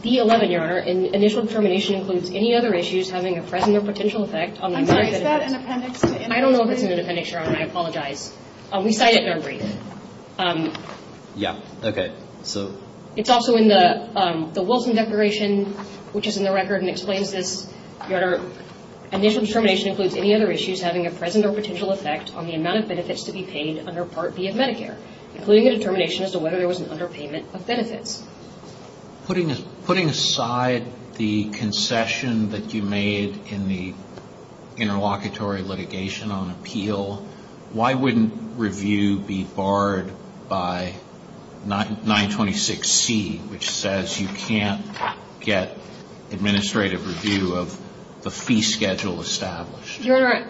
D11, Your Honor. An initial determination includes any other issues having a present or potential effect on... Is that an appendix? I don't know if it's in the appendix, Your Honor, and I apologize. We cite it in our brief. Yes, okay. It's also in the Wilson Declaration, which is in the record and explains this. Your Honor, an initial determination includes any other issues having a present or potential effect on the amount of benefits to be paid under Part B of Medicare, including a determination as to whether there was an underpayment of benefits. Putting aside the concession that you made in the interlocutory litigation on appeal, why wouldn't review be barred by 926C, which says you can't get administrative review of the fee schedule established? Your Honor,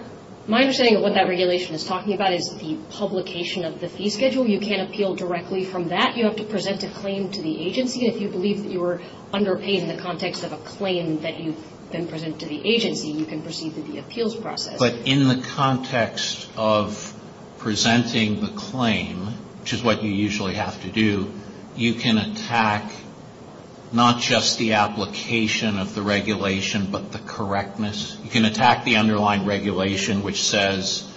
my understanding of what that regulation is talking about is the publication of the fee schedule. You can't appeal directly from that. You have to present a claim to the agency. If you believe that you were underpaying in the context of a claim that you've been presented to the agency, you can proceed to the appeals process. But in the context of presenting the claim, which is what you usually have to do, you can attack not just the application of the regulation, but the correctness. You can attack the underlying regulation, which says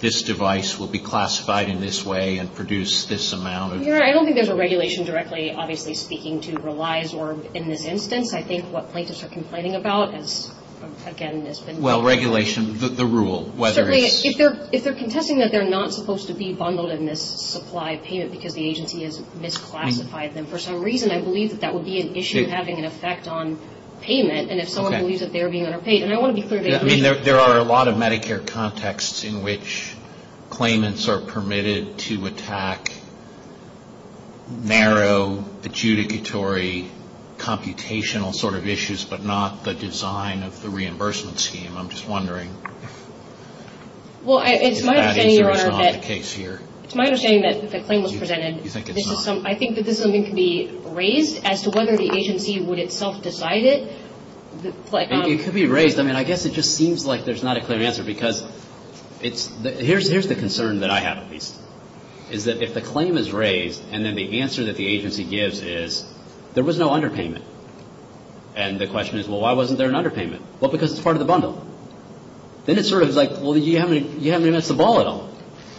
this device will be classified in this way and produce this amount of... Your Honor, I don't think there's a regulation directly, obviously, speaking to relies or in this instance. I think what plaintiffs are complaining about is, again, it's been... Well, regulation, the rule, whether it's... If they're contesting that they're not supposed to be bundled in this supply payment because the agency has misclassified them, for some reason I believe that that would be an issue having an effect on payment, and if someone believes that they're being underpaid, and I want to be clear... I mean, there are a lot of Medicare contexts in which claimants are permitted to attack narrow, adjudicatory, computational sort of issues, but not the design of the reimbursement scheme. I'm just wondering if that is not the case here. Well, it's my opinion, Your Honor, that the claim was presented. You think it's not? I think that this one can be raised as to whether the agency would itself decide it. It could be raised. I mean, I guess it just seems like there's not a clear answer because it's... Here's the concern that I have, at least, is that if the claim is raised and then the answer that the agency gives is, there was no underpayment, and the question is, well, why wasn't there an underpayment? Well, because it's part of the bundle. Then it's sort of like, well, you haven't even missed the ball at all,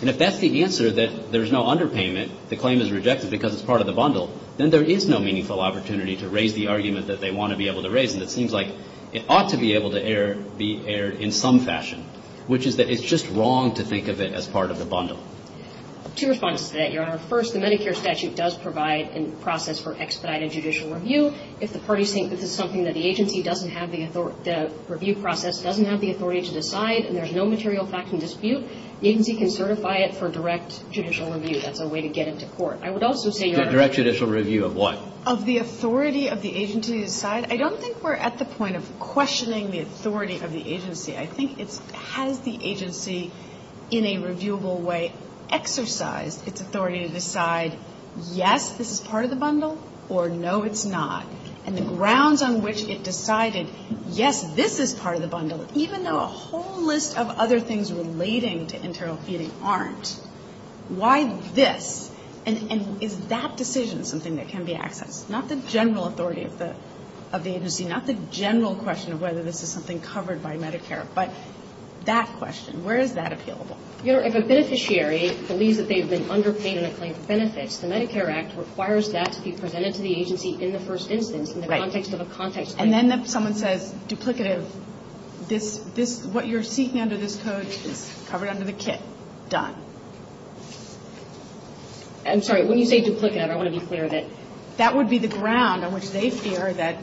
and if that's the answer, that there's no underpayment, the claim is rejected because it's part of the bundle, then there is no meaningful opportunity to raise the argument that they want to be able to raise, and it seems like it ought to be able to be aired in some fashion, which is that it's just wrong to think of it as part of the bundle. Two responses to that, Your Honor. First, the Medicare statute does provide a process for expedited judicial review. If the parties think this is something that the agency doesn't have the authority... the review process doesn't have the authority to decide and there's no material facts in dispute, the agency can certify it for direct judicial review. That's a way to get into court. Direct judicial review of what? Of the authority of the agency to decide. I don't think we're at the point of questioning the authority of the agency. I think it has the agency in a reviewable way exercise its authority to decide, yes, this is part of the bundle, or no, it's not, and the grounds on which it decided, yes, this is part of the bundle, even though a whole list of other things relating to internal feeding aren't. Why this? And is that decision something that can be accessed? Not the general authority of the agency, not the general question of whether this is something covered by Medicare, but that question, where is that available? If a beneficiary believes that they've been underpaid in a claim of benefits, the Medicare Act requires that to be presented to the agency in the first instance, in the context of a contact statement. And then if someone says duplicative, what you're seeking under this code is covered under the kit. Done. I'm sorry, when you say duplicative, I want to be clear that that would be the ground on which they fear that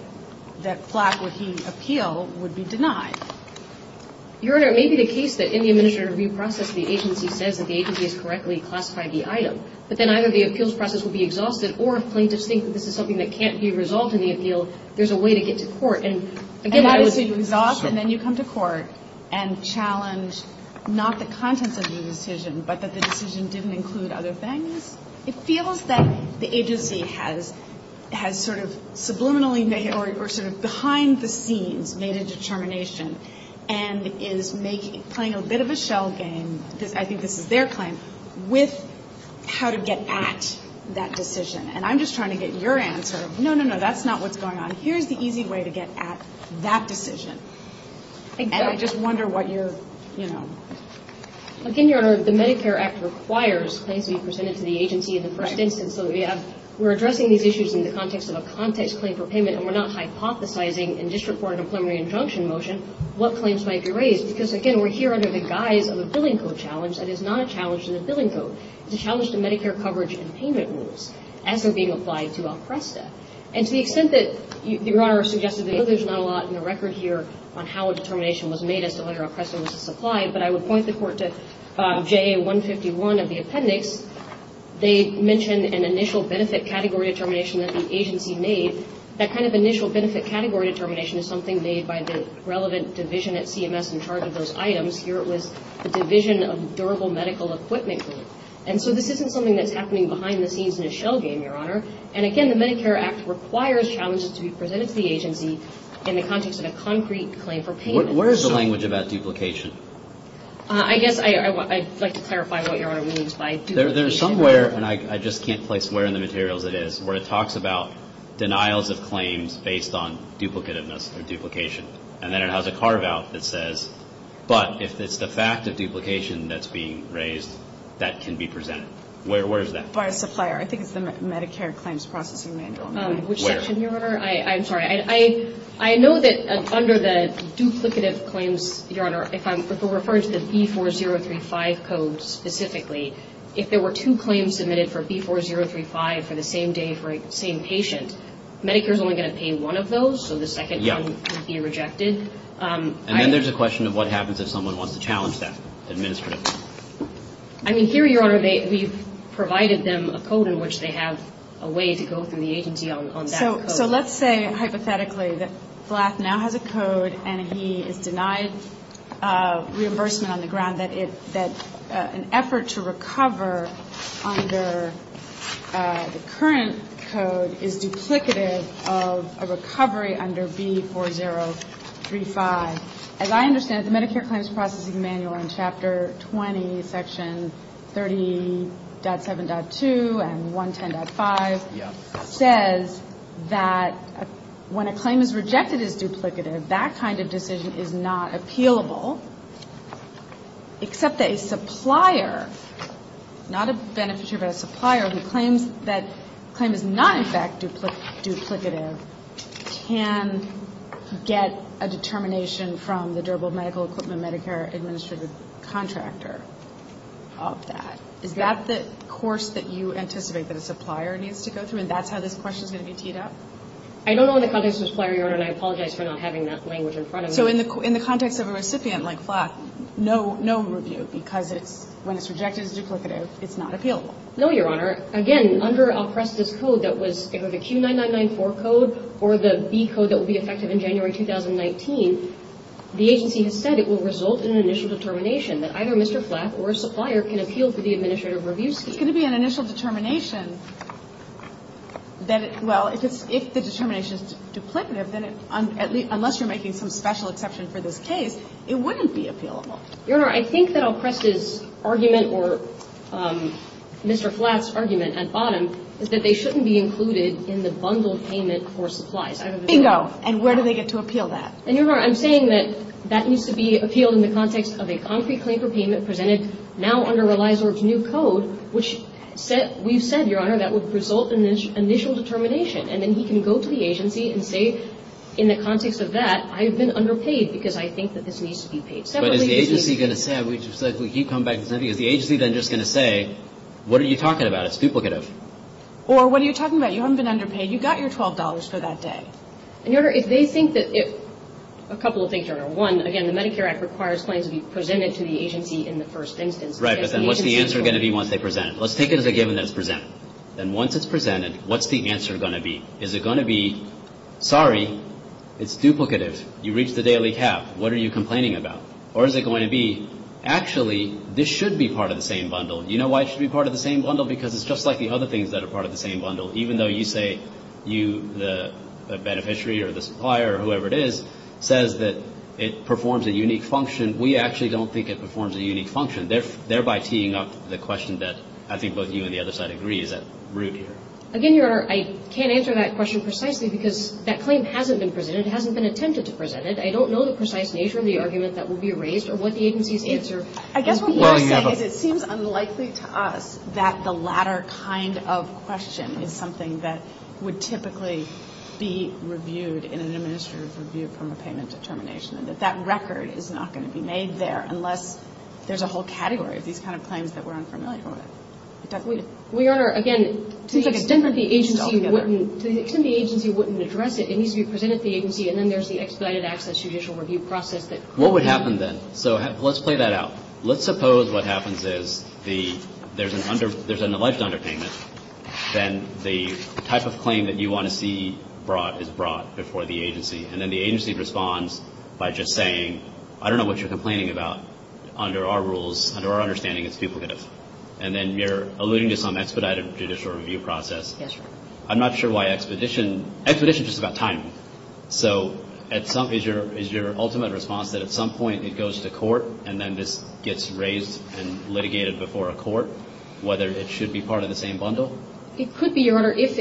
plaque with the appeal would be denied. Your Honor, it may be the case that in the administrative review process, the agency says that the agency has correctly classified the item, but then either the appeals process will be exhausted, or plain distinct that this is something that can't be resolved in the appeal, there's a way to get to court. And that decision is exhausted, and then you come to court and challenge not the contents of the decision, but that the decision didn't include other things? It feels that the agency has sort of subliminally made, or sort of behind the scenes made a determination, and is playing a bit of a shell game, I think this is their claim, with how to get at that decision. And I'm just trying to get your answer. No, no, no, that's not what's going on. Here's the easy way to get at that decision. I just wonder what your, you know. Again, Your Honor, the Medicare Act requires claims to be presented to the agency in the correct instance. We're addressing these issues in the context of a context claim for payment, and we're not hypothesizing and disreporting a preliminary injunction motion, what claims might be raised. Because, again, we're here under the guise of a billing code challenge, and it's not a challenge to the billing code. It's a challenge to Medicare coverage and payment rules, as they're being applied to a precedent. And to the extent that, Your Honor, I guess there's not a lot in the record here on how a determination was made as to whether a precedent was applied, but I would point the court to JA-151 as the appendix. They mention an initial benefit category determination that the agency made. That kind of initial benefit category determination is something made by the relevant division at CMS in charge of those items. Here it was the Division of Durable Medical Equipment. And so this isn't something that's happening behind the scenes in a shell game, Your Honor. And, again, the Medicare Act requires challenges to be presented to the agency in the context of a concrete claim for payment. Where is the language about duplication? I guess I'd like to clarify what Your Honor means by duplication. There's somewhere, and I just can't place where in the materials it is, where it talks about denials of claims based on duplicativeness or duplication. And then it has a carve-out that says, but if it's the fact of duplication that's being raised, that can be presented. Where is that? It's by supplier. I think it's the Medicare Claims Processing Manual. Which section, Your Honor? I'm sorry. I know that under the duplicative claims, Your Honor, if we're referring to the B4035 code specifically, if there were two claims submitted for B4035 for the same day for the same patient, Medicare is only going to pay one of those, so the second one would be rejected. And then there's a question of what happens if someone wants to challenge that administratively. I mean, here, Your Honor, we've provided them a code in which they have a way to go through the agency on that code. So let's say, hypothetically, that Blass now has a code and he is denied reimbursement on the ground, that an effort to recover under the current code is duplicative of a recovery under B4035. As I understand it, the Medicare Claims Processing Manual in Chapter 20, Sections 30.7.2 and 110.5, says that when a claim is rejected as duplicative, that kind of decision is not appealable, except that a supplier, not a beneficiary but a supplier, who claims that a claim is not in fact duplicative, can get a determination from the durable medical equipment Medicare administrative contractor of that. Is that the course that you anticipate that a supplier needs to go through, and that's how this question is going to be teed up? I don't know the context of the supplier, Your Honor, and I apologize for not having that language in front of me. So in the context of a recipient like Blass, no review, because when it's rejected as duplicative, it's not appealable. No, Your Honor. Again, under Alcrest's code that was the Q9994 code or the B code that will be effective in January 2019, the agency has said it will result in an initial determination that either Mr. Blass or a supplier can appeal to the administrative review scheme. It's going to be an initial determination that, well, if the determination is duplicative, then unless you're making some special exception for this case, it wouldn't be appealable. Your Honor, I think that Alcrest's argument or Mr. Blass's argument at bottom is that they shouldn't be included in the bundle payment for supplies. Bingo! And where do they get to appeal that? And, Your Honor, I'm saying that that needs to be appealed in the context of a concrete claim for payment presented now under Reiser's new code, which you said, Your Honor, that would result in this initial determination, and then he can go to the agency and say in the context of that, I've been underpaid because I think that this needs to be paid. So, is the agency going to say, just like he came back and said, is the agency then just going to say, what are you talking about? It's duplicative. Or, what are you talking about? You haven't been underpaid. You got your $12 for that day. And, Your Honor, if they think that it, a couple of things, Your Honor. One, again, the Medicare Act requires claims to be presented to the agency in the first instance. Right, but then what's the answer going to be once they present it? Let's take it as a given that it's presented. Then once it's presented, what's the answer going to be? Is it going to be, sorry, it's duplicative. You reached the daily cap. What are you complaining about? Or, is it going to be, actually, this should be part of the same bundle. Do you know why it should be part of the same bundle? Because it's just like the other things that are part of the same bundle. Even though you say, you, the beneficiary or the supplier or whoever it is, says that it performs a unique function. We actually don't think it performs a unique function. Thereby teeing up the question that I think both you and the other side agree is rude. Again, Your Honor, I can't answer that question precisely because that claim hasn't been presented. It hasn't been attempted to present it. I don't know the precise nature of the argument that will be raised or what the agency's answer is. It seems unlikely to us that the latter kind of question is something that would typically be reviewed in an administrative review from a payment determination. That record is not going to be made there unless there's a whole category of these kind of claims that we're unfamiliar with. We are, again, to the extent that the agency wouldn't address it, and then there's the expedited access judicial review process. What would happen then? Let's play that out. Let's suppose what happens is there's an alleged underpayment, and the type of claim that you want to see brought is brought before the agency, and then the agency responds by just saying, I don't know what you're complaining about. Under our rules, under our understanding, it's people business. And then you're alluding to some expedited judicial review process. I'm not sure why exposition. Exposition is just about timing. So is your ultimate response that at some point it goes to court, and then this gets raised and litigated before a court, whether it should be part of the same bundle? It could be, Your Honor, if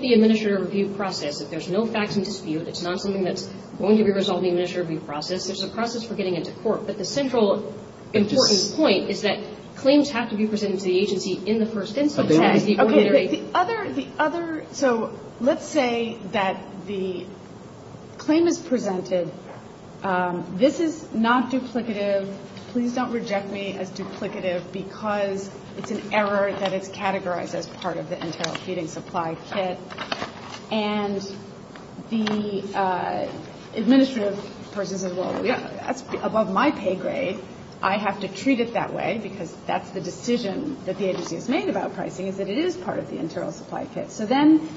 the administrative review process, if there's no facts in dispute, it's not something that's going to be resolved in the administrative review process. There's a process for getting it to court, but the central important point is that claims have to be presented to the agency in the first instance. Okay. The other, so let's say that the claim is presented. This is not duplicative. Please don't reject me as duplicative because it's an error that is categorized as part of the internal feeding supply kit. And the administrative person says, well, that's above my pay grade. I have to treat it that way because that's the decision that the agency has made about pricing, is that it is part of the internal supply kit. So then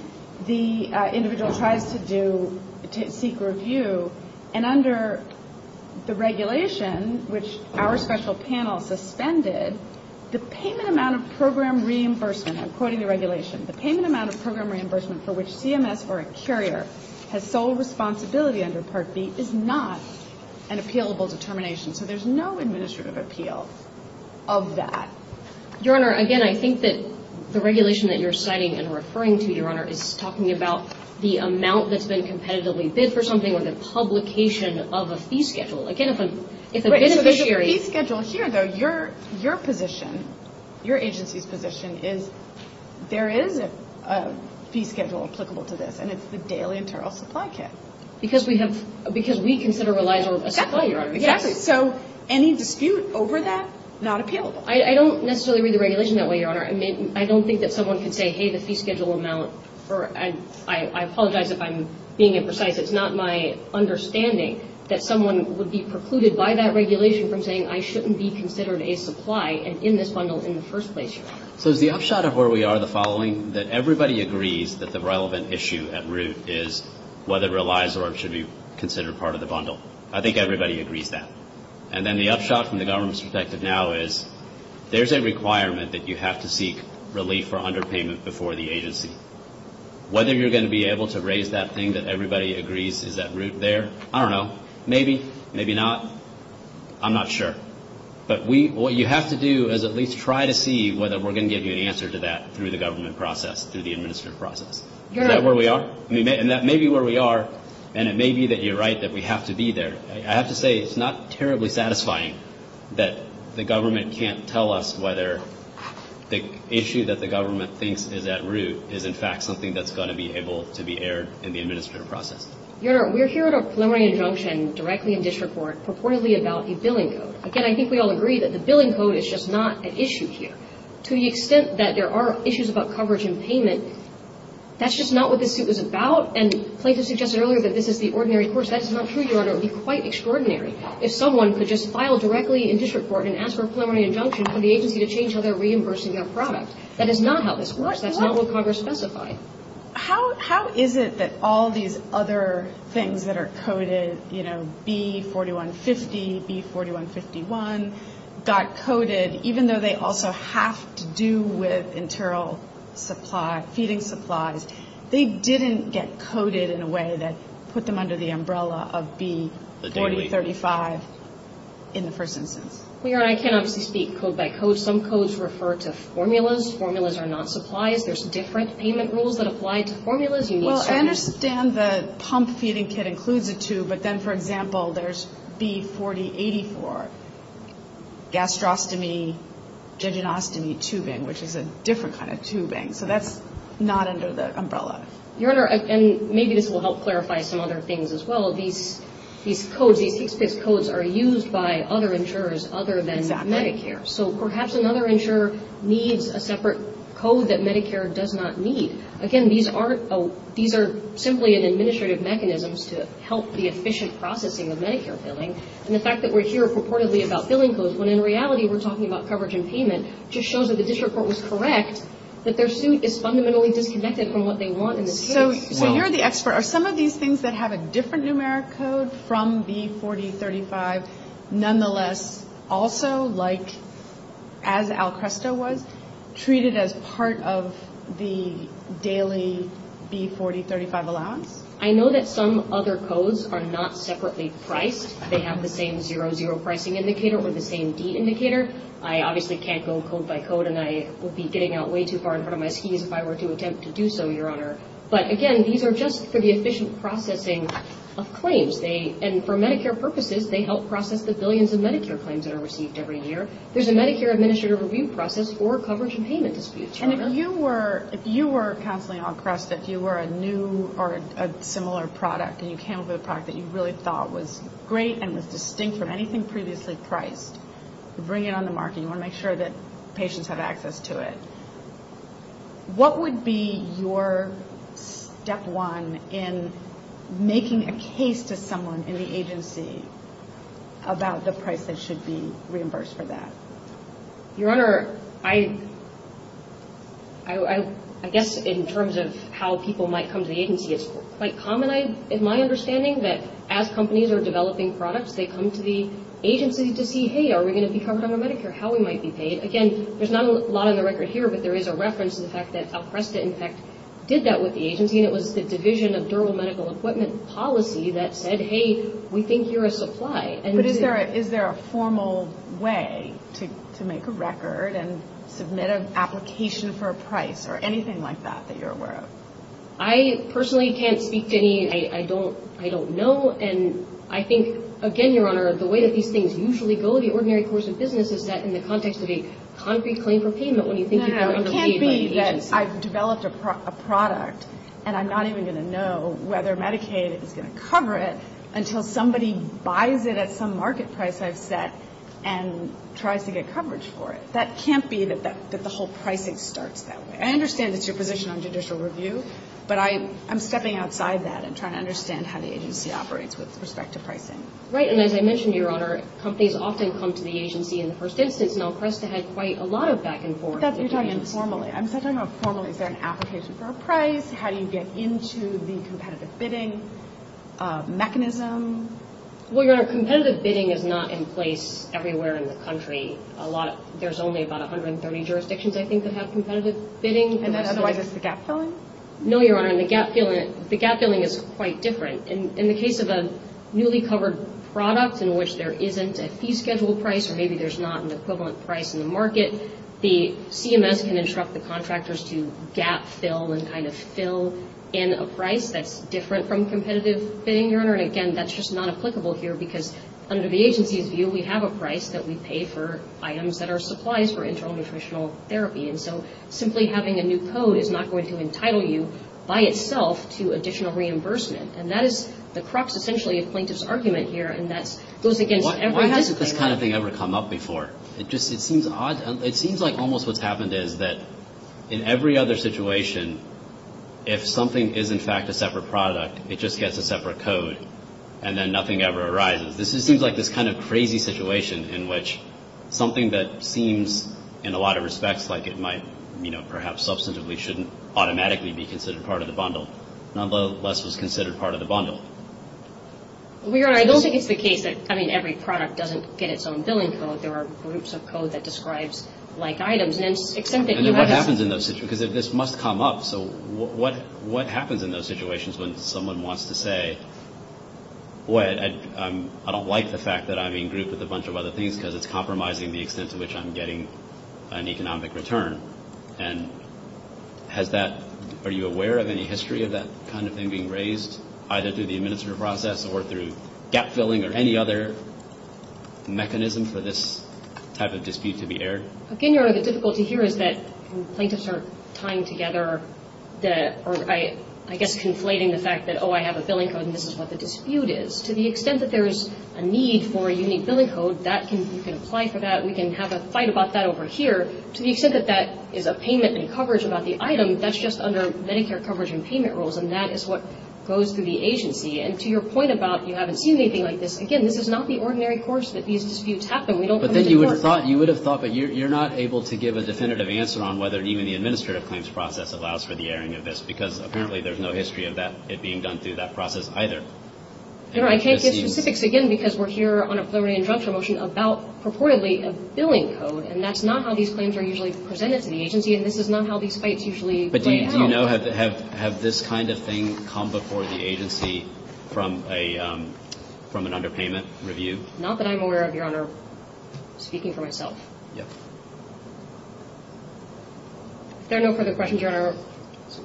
the individual tries to do, to seek review. And under the regulation, which our special panel suspended, the payment amount of program reimbursement, I'm quoting the regulation, the payment amount of program reimbursement for which CMS or a carrier has sole responsibility under Part B is not an appealable determination. So there's no administrative appeal of that. Your Honor, again, I think that the regulation that you're citing and referring to, Your Honor, is talking about the amount that's been competitively bid for something or the publication of a fee schedule. Again, it's a beneficiary. But the fee schedule here, though, your position, your agency's position, is there is a fee schedule applicable to this, and it's the daily internal supply kit. Exactly. So any dispute over that, not appealable. I don't necessarily read the regulation that way, Your Honor. I don't think that someone can say, hey, the fee schedule amount, or I apologize if I'm being imprecise, it's not my understanding that someone would be precluded by that regulation from saying, I shouldn't be considered a supply in this bundle in the first place. So the upshot of where we are, the following, that everybody agrees that the relevant issue at root is whether it relies or should be considered part of the bundle. I think everybody agrees that. And then the upshot from the government perspective now is there's a requirement that you have to seek relief or underpayment before the agency. Whether you're going to be able to raise that thing that everybody agrees is at root there, I don't know. Maybe, maybe not. I'm not sure. But what you have to do is at least try to see whether we're going to give you an answer to that through the government process, through the administrative process. Is that where we are? And that may be where we are, and it may be that you're right that we have to be there. I have to say it's not terribly satisfying that the government can't tell us whether the issue that the government thinks is at root is, in fact, something that's going to be able to be aired in the administrative process. We're hearing a flaring injunction directly in this report purportedly about a billing code. Again, I think we all agree that the billing code is just not an issue here. To the extent that there are issues about coverage and payment, that's just not what this suit is about. And Clayton suggested earlier that this is the ordinary course. That's not true, Jordan. It would be quite extraordinary if someone could just file directly in this report and ask for a flaring injunction from the agency to change how they're reimbursing their product. That is not how this works. That's not what Congress specified. How is it that all these other things that are coded, you know, B4150, B4151, got coded, even though they also have to do with internal supply, feeding supplies, they didn't get coded in a way that put them under the umbrella of B4035 in the first instance? I cannot speak code by code. Some codes refer to formulas. Formulas are not supplied. There's different payment rules that apply to formulas. Well, I understand the pump feeding kit includes the two, but then, for example, there's B4084. Gastrostomy, jejunostomy, tubing, which is a different kind of tubing. So that's not under the umbrella. Your Honor, and maybe this will help clarify some other things as well. These codes, these codes are used by other insurers other than Medicare. So perhaps another insurer needs a separate code that Medicare does not need. Again, these are simply an administrative mechanism to help the efficient processing of Medicare billing. And the fact that we're here purportedly about billing codes, when in reality we're talking about coverage and payment, just shows that if this report was correct, that their suit is fundamentally disconnected from what they want in this case. So you're the expert. Are some of these things that have a different numeric code from B4035 nonetheless also, like as Alcresto was, treated as part of the daily B4035 allowance? I know that some other codes are not separately priced. They have the same 00 pricing indicator with the same D indicator. I obviously can't go code by code, and I would be getting out way too far in front of my team if I were to attempt to do so, Your Honor. But again, these are just for the efficient processing of claims. And for Medicare purposes, they help process the billions of Medicare claims that are received every year. There's a Medicare administrative review process for coverage and payment disputes. And if you were counseling Alcresto, if you were a new or a similar product and you came up with a product that you really thought was great and was distinct from anything previously priced, bring it on the market. You want to make sure that patients have access to it. What would be your step one in making a case to someone in the agency about the price that should be reimbursed for that? Your Honor, I guess in terms of how people might come to the agency, it's quite common in my understanding that as companies are developing products, they come to the agency to see, hey, are we going to be covered under Medicare? How we might be paid? Again, there's not a lot on the record here, but there is a reference to the fact that Alcresto, in fact, did that with the agency, and it was the Division of General Medical Equipment Policy that said, hey, we think you're a supply. But is there a formal way to make a record and submit an application for a price or anything like that that you're aware of? I personally can't speak to any. I don't know, and I think, again, Your Honor, the way that these things usually go in the ordinary course of business is that in the context of a concrete claim for payment, what do you think you're going to receive? No, no, it can't be that I've developed a product, and I'm not even going to know whether Medicaid is going to cover it until somebody buys it at some market price I've set and tries to get coverage for it. That can't be that the whole pricing starts that way. I understand that you're positioned on judicial review, but I'm stepping outside that and trying to understand how the agency operates with respect to pricing. Right, and as I mentioned, Your Honor, companies often come to the agency in the first instance. Alcresto has quite a lot of back and forth. That's what I'm talking about formally. I'm talking about formally sending applications for a price, How do you get into the competitive bidding mechanism? Well, Your Honor, competitive bidding is not in place everywhere in the country. There's only about 130 jurisdictions, I think, that have competitive bidding. And that's why there's a gap filling? No, Your Honor, and the gap filling is quite different. In the case of a newly covered product in which there isn't a fee schedule price or maybe there's not an equivalent price in the market, the CMS can instruct the contractors to gap fill and kind of fill in a price that's different from competitive bidding, Your Honor. And again, that's just not applicable here because under the agency's view, we have a price that we pay for items that are supplies for internal nutritional therapy. And so simply having a new code is not going to entitle you by itself to additional reimbursement. And that is the crux, essentially, of Plaintiff's argument here. Why hasn't this kind of thing ever come up before? It just seems odd. It seems like almost what's happened is that in every other situation, if something is, in fact, a separate product, it just gets a separate code and then nothing ever arises. This just seems like this kind of crazy situation in which something that seems, in a lot of respects, like it might, you know, perhaps substantively, shouldn't automatically be considered part of the bundle, nonetheless is considered part of the bundle. Every product doesn't get its own billing code. There are groups of code that describes like items. And then what happens in those situations? Because this must come up. So what happens in those situations when someone wants to say, boy, I don't like the fact that I'm being grouped with a bunch of other things because it's compromising the extent to which I'm getting an economic return? And are you aware of any history of that kind of thing being raised, either through the administrative process or through gap-filling or any other mechanism for this type of dispute to be aired? Again, the difficulty here is that plaintiffs are tying together the, or I guess conflating the fact that, oh, I have a billing code and this is what the dispute is. To the extent that there is a need for a unique billing code, you can apply for that. We can have a fight about that over here. To the extent that that is a payment in coverage about the item, that's just under Medicare coverage and payment rules, and that is what goes through the agency. And to your point about you have a team meeting like this, again, this is not the ordinary course that these disputes happen. But then you would have thought that you're not able to give a definitive answer on whether even the administrative claims process allows for the airing of this because apparently there's no history of it being done through that process either. I can't give specifics, again, because we're here on a floating injunction motion about purportedly a billing code, and that's not how these claims are usually presented to the agency, and this is not how these fights usually take place. Do you know, have this kind of thing come before the agency from an underpayment review? Not that I'm aware of, Your Honor. I'm speaking for myself. Yes. There are no further questions, Your Honor.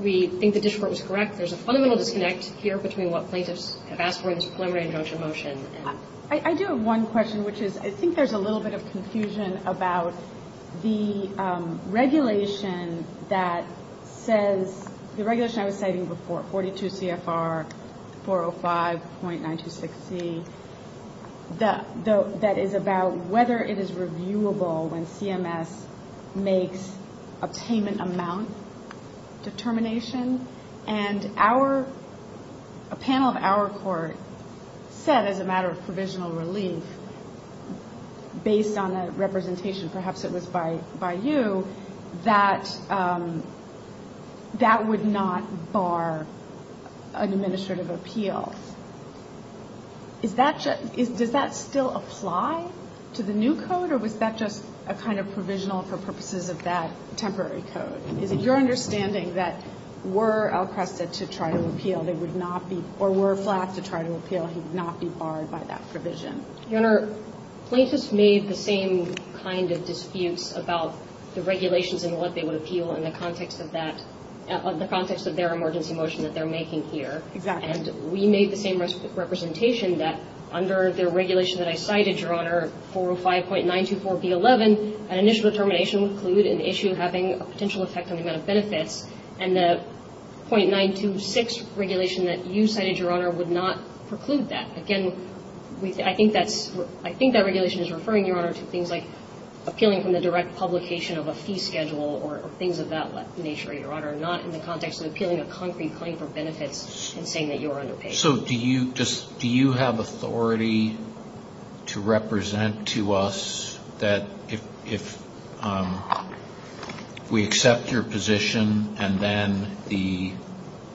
We think the district court was correct. There's a fundamental disconnect here between what plaintiffs have asked for in this floating injunction motion. I do have one question, which is I think there's a little bit of confusion about the regulation that says, the regulation I was stating before, 42 CFR 405.926C, that is about whether it is reviewable when CMS makes a payment amount determination, and a panel of our court said as a matter of provisional relief, based on a representation, perhaps it was by you, that that would not bar administrative appeal. Does that still apply to the new code, or was that just a kind of provisional for purposes of that temporary code? Is it your understanding that were Alcresta to try to appeal, or were Flack to try to appeal, he would not be barred by that provision? Your Honor, plaintiffs made the same kind of dispute about the regulations and what they would appeal in the context of that, of the context of their emergency motion that they're making here. And we made the same representation that under the regulation that I cited, Your Honor, 405.924B11, an initial determination would include an issue having a potential effect on the amount of benefits, and the .926 regulation that you cited, Your Honor, would not preclude that. Again, I think that regulation is referring, Your Honor, to things like appealing from the direct publication of a fee schedule, or things of that nature, Your Honor, not in the context of appealing a concrete claim for benefits and saying that you are underpaid. So do you have authority to represent to us that if we accept your position and then the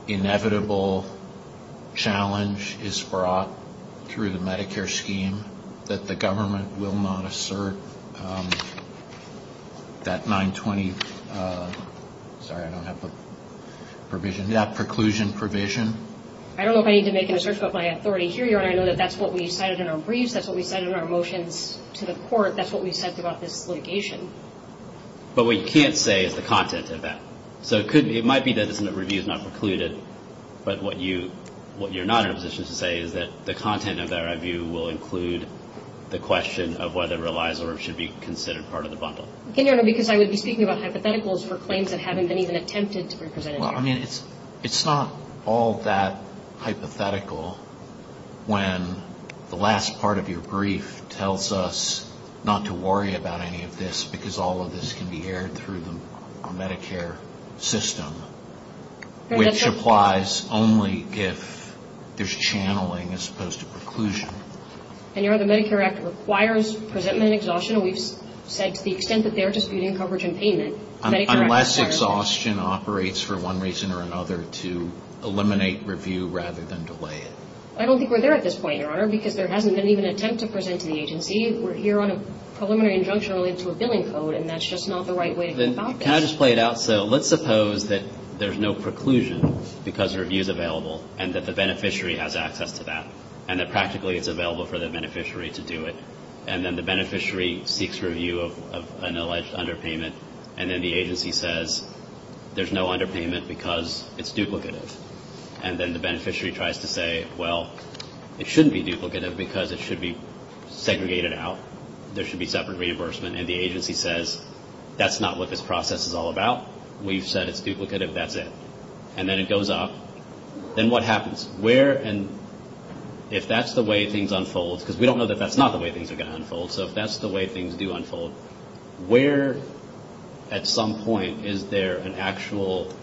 inevitable challenge is brought through the Medicare scheme, that the government will not assert that 920, sorry, I don't have the provision, that preclusion provision? I don't know if I need to make an assertion of my authority here, Your Honor. I know that that's what we cited in our briefs, that's what we cited in our motions to the court, that's what we've said throughout this litigation. But what you can't say is the content of that. So it might be that this review is not precluded, but what you're not in a position to say is that the content of that review will include the question of whether it relies or should be considered part of the bundle. Again, Your Honor, because I would be speaking about hypotheticals for claims that haven't been even attempted to be presented. Well, I mean, it's not all that hypothetical when the last part of your brief tells us not to worry about any of this because all of this can be aired through the Medicare system, which applies only if there's channeling as opposed to preclusion. And Your Honor, the Medicare Act requires presentment and exhaustion, and we've said to the extent that they're disputing coverage and payment, Medicare Act requires... Unless exhaustion operates for one reason or another to eliminate review rather than delay it. I don't think we're there at this point, Your Honor, because there hasn't been even an attempt to present to the agency. We're here on a preliminary injunction relating to a billing code, and that's just not the right way to stop this. Can I just play it out? So let's suppose that there's no preclusion because review's available and that the beneficiary has access to that and that practically it's available for the beneficiary to do it, and then the beneficiary seeks review of an alleged underpayment, and then the agency says there's no underpayment because it's duplicative, and then the beneficiary tries to say, well, it shouldn't be duplicative because it should be segregated out. There should be separate reimbursement, and the agency says that's not what this process is all about. We've said it's duplicative. That's it. And then it goes off. Then what happens? Where and if that's the way things unfold, because we don't know that that's not the way things are going to unfold, so if that's the way things do unfold, where at some point is there an actual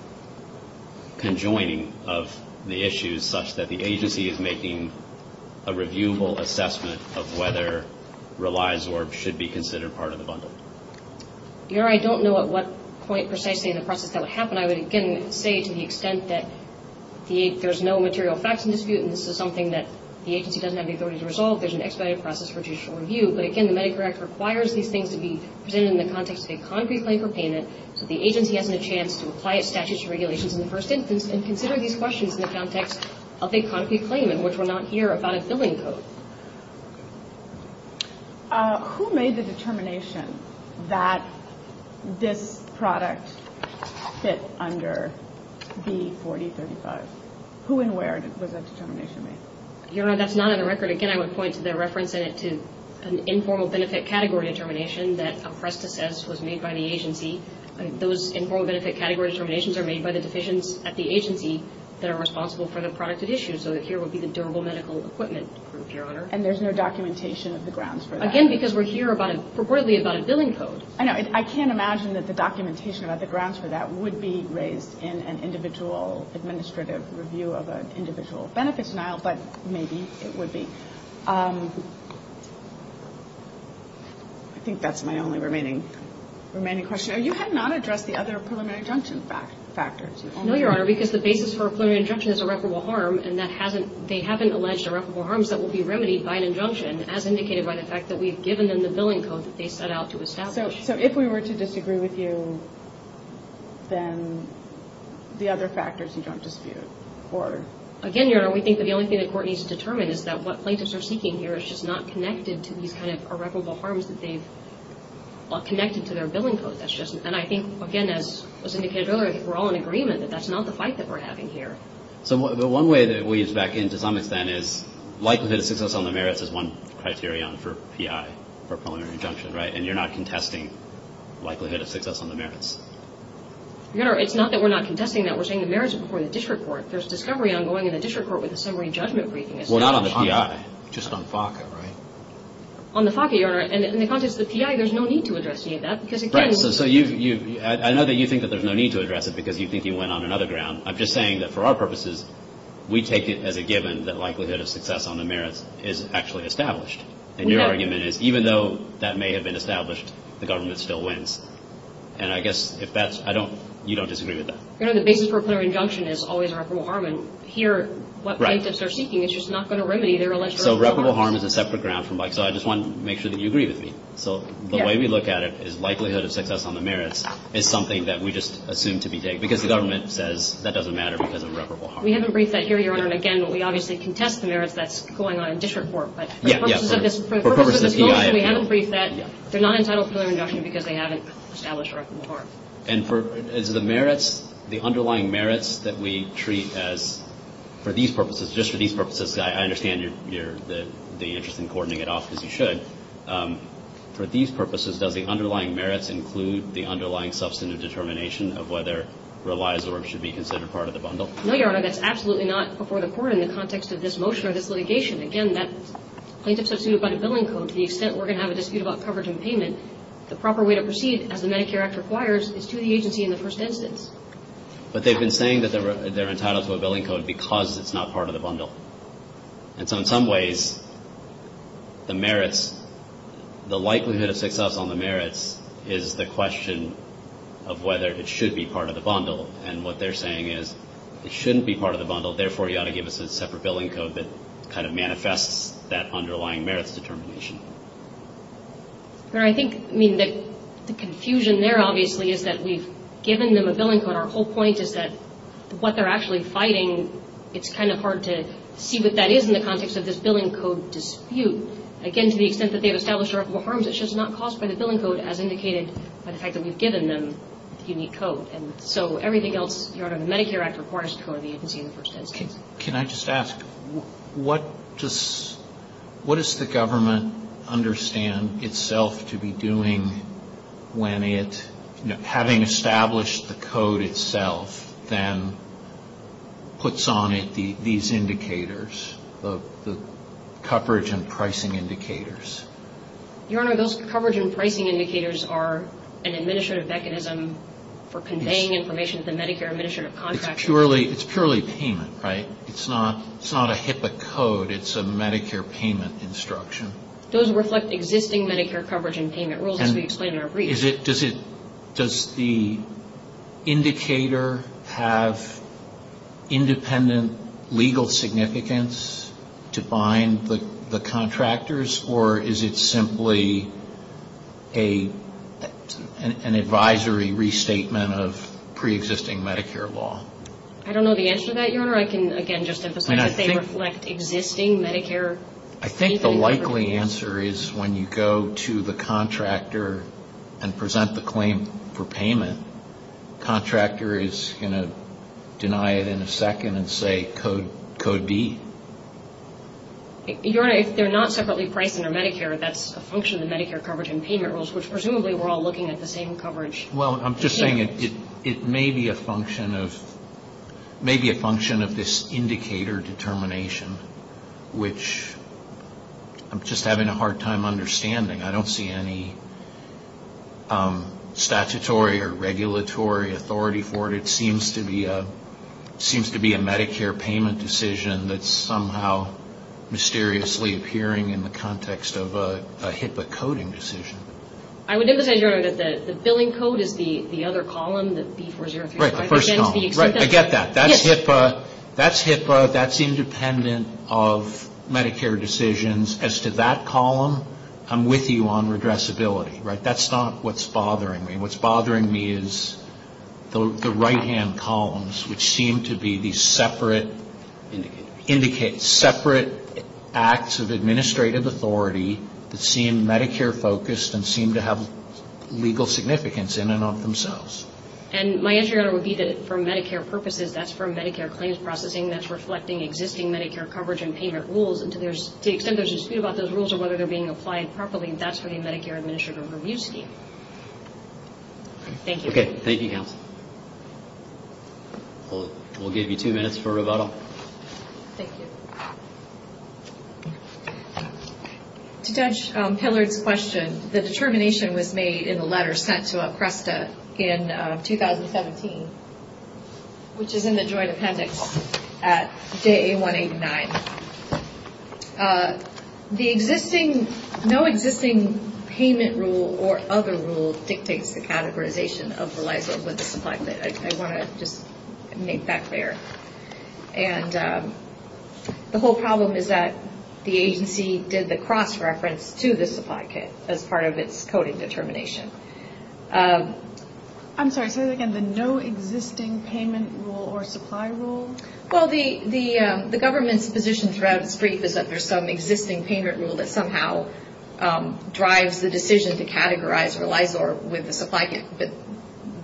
conjoining of the issues such that the agency is making a reviewable assessment of whether relies or should be considered part of the bundle? I don't know at what point precisely in the process that would happen. I would say to the extent that there's no material facts in dispute and this is something that the agency doesn't have the authority to resolve, there's an expedited process for judicial review, but again, the Medicare Act requires these things to be presented in the context of a concrete claim for payment, so the agency has a chance to apply its statutes and regulations in the first instance and consider these questions in the context of a concrete claim in which we're not here about its billing codes. Who made the determination that this product fits under B4075? Who and where did this determination make? That's not on the record. Again, I would point to the reference in it to an informal benefit category determination that a precipice was made by the agency. Those informal benefit category determinations are made by the decisions at the agency that are responsible for the product at issue, so here would be the durable medical equipment. And there's no documentation of the grounds for that? Again, because we're here reportedly about a billing code. I know. I can't imagine that the documentation about the grounds for that would be raised in an individual administrative review of an individual benefits file, but maybe it would be. I think that's my only remaining question. You have not addressed the other preliminary injunction factors. No, Your Honor, because the basis for a preliminary injunction is irreparable harm, and they haven't alleged irreparable harms that will be remedied by an injunction. It has indicated by the fact that we've given them the billing codes that they set out to establish. So if we were to disagree with you, then the other factors you don't dispute? Again, Your Honor, we think that the only thing the court needs to determine is that what plaintiffs are seeking here is just not connected to these irreparable harms that they've connected to their billing codes. And I think, again, as was indicated earlier, we're all in agreement that that's not the fight that we're having here. So the one way that we expect, to some extent, is likelihood of success on the merits is one criterion for PI, for preliminary injunction, right? And you're not contesting likelihood of success on the merits? Your Honor, it's not that we're not contesting that. We're saying the merits are before the district court. There's discovery ongoing in the district court with a summary judgment briefing. Well, not on the PI. Just on FACA, right? On the FACA, Your Honor. And in the context of the PI, there's no need to address any of that. Right. So I know that you think that there's no need to address it because you think you went on another ground. I'm just saying that for our purposes, we take it as a given that likelihood of success on the merits is actually established. And your argument is even though that may have been established, the government still wins. And I guess, at best, you don't disagree with that. Your Honor, the basis for preliminary injunction is always irreparable harm. And here, what plaintiffs are seeking is just not going to remedy their alleged irreparable harm. Right. So irreparable harm is a separate ground. So I just want to make sure that you agree with me. So the way we look at it is likelihood of success on the merits is something that we just assume to be vague because the government says that doesn't matter because of irreparable harm. We haven't briefed that here, Your Honor. And, again, we obviously contest the merits that's going on in district court. But for purposes of this report, we haven't briefed that. They're not entitled to a preliminary injunction because they haven't established irreparable harm. And for the merits, the underlying merits that we treat as for these purposes, just for these purposes, I understand you're just coordinating it off as you should. For these purposes, does the underlying merits include the underlying substantive determination of whether it relies or should be considered part of the bundle? No, Your Honor. That's absolutely not before the court in the context of this motion or this litigation. Again, that plaintiff is substituted by a billing code to the extent we're going to have a dispute about coverage and payment. The proper way to proceed, as the Medicare Act requires, is to the agency in the first instance. But they've been saying that they're entitled to a billing code because it's not part of the bundle. And so in some ways, the merits, the likelihood of success on the merits is the question of whether it should be part of the bundle. And what they're saying is it shouldn't be part of the bundle. Therefore, you ought to give us a separate billing code that kind of manifests that underlying merits determination. Your Honor, I think, I mean, the confusion there, obviously, is that we've given them a billing code. Our whole point is that what they're actually fighting, it's kind of hard to see what that is in the context of this billing code dispute. Again, to the extent that they've established irreparable harms, it's just not caused by the billing code as indicated by the fact that we've given them a unique code. And so everything else, Your Honor, the Medicare Act requires the code of the agency in the first instance. Can I just ask, what does the government understand itself to be doing when it, having established the code itself, then puts on it these indicators, the coverage and pricing indicators? Your Honor, those coverage and pricing indicators are an administrative mechanism for conveying information to Medicare administrative contractors. It's purely payment, right? It's not a HIPAA code. It's a Medicare payment instruction. Those reflect existing Medicare coverage and payment rules, as we explained in our brief. Does the indicator have independent legal significance to bind the contractors, or is it simply an advisory restatement of preexisting Medicare law? I don't know the answer to that, Your Honor. I can, again, just emphasize that they reflect existing Medicare. I think the likely answer is when you go to the contractor and present the claim for payment, the contractor is going to deny it in a second and say, Code B. Your Honor, if they're not separately pricing or Medicare, that's a function of Medicare coverage and payment rules, which presumably we're all looking at the same coverage. Well, I'm just saying it may be a function of this indicator determination, which I'm just having a hard time understanding. I don't see any statutory or regulatory authority for it. It seems to be a Medicare payment decision that's somehow mysteriously appearing in the context of a HIPAA coding decision. The billing code is the other column. Right, the first column. That's HIPAA. That's HIPAA. That's independent of Medicare decisions. As to that column, I'm with you on regressibility. That's not what's bothering me. What's bothering me is the right-hand columns, which seem to be separate acts of administrative authority that seem Medicare-focused and seem to have legal significance in and of themselves. My answer, Your Honor, would be that for Medicare purposes, that's for Medicare claims processing that's reflecting existing Medicare coverage and payment rules. To the extent there's a dispute about those rules and whether they're being applied properly, I think that's for the Medicare Administrative Review Scheme. Thank you. Okay, thank you, counsel. We'll give you two minutes for rebuttal. Thank you. To judge Taylor's question, the determination was made in the letters sent to APRESTA in 2017, which is in the joint appendix at day 189. The no existing payment rule or other rule dictates the categorization of the license of the supply kit. I want to just make that clear. And the whole problem is that the agency did the cross-reference to the supply kit as part of its coding determination. I'm sorry. Say that again. The no existing payment rule or supply rule? Well, the government's position for APRESTA is that there's some existing payment rule that somehow drives the decision to categorize the license of the supply kit, but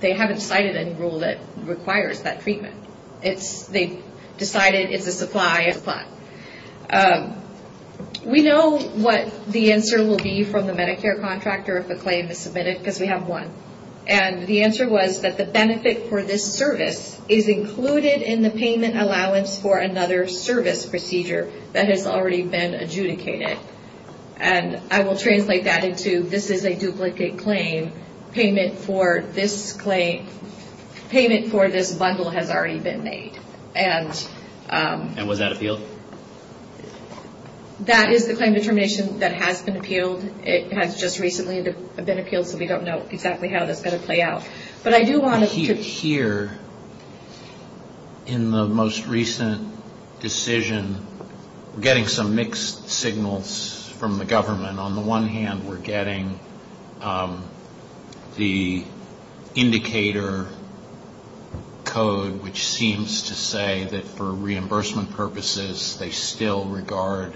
they haven't cited any rule that requires that treatment. They've decided it's a supply and a plus. We know what the answer will be from the Medicare contractor if a claim is submitted, because we have one. And the answer was that the benefit for this service is included in the payment allowance for another service procedure that has already been adjudicated. And I will translate that into this is a duplicate claim. Payment for this bundle has already been made. And was that appealed? That is the claim determination that has been appealed. It has just recently been appealed, so we don't know exactly how that's going to play out. But I do want us to hear in the most recent decision, we're getting some mixed signals from the government. On the one hand, we're getting the indicator code, which seems to say that for reimbursement purposes, they still regard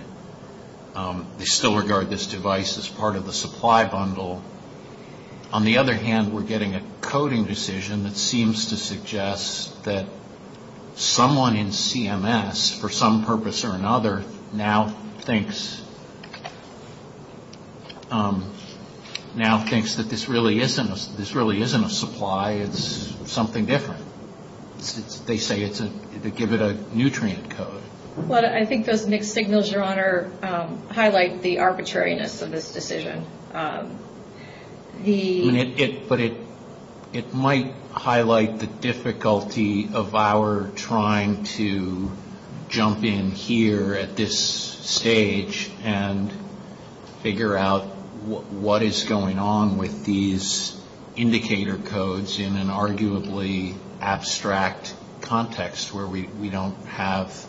this device as part of the supply bundle. On the other hand, we're getting a coding decision that seems to suggest that someone in CMS, for some purpose or another, now thinks that this really isn't a supply. It's something different. They say to give it a nutrient code. I think those mixed signals, Your Honor, highlight the arbitrariness of this decision. But it might highlight the difficulty of our trying to jump in here at this stage and figure out what is going on with these indicator codes in an arguably abstract context where we don't have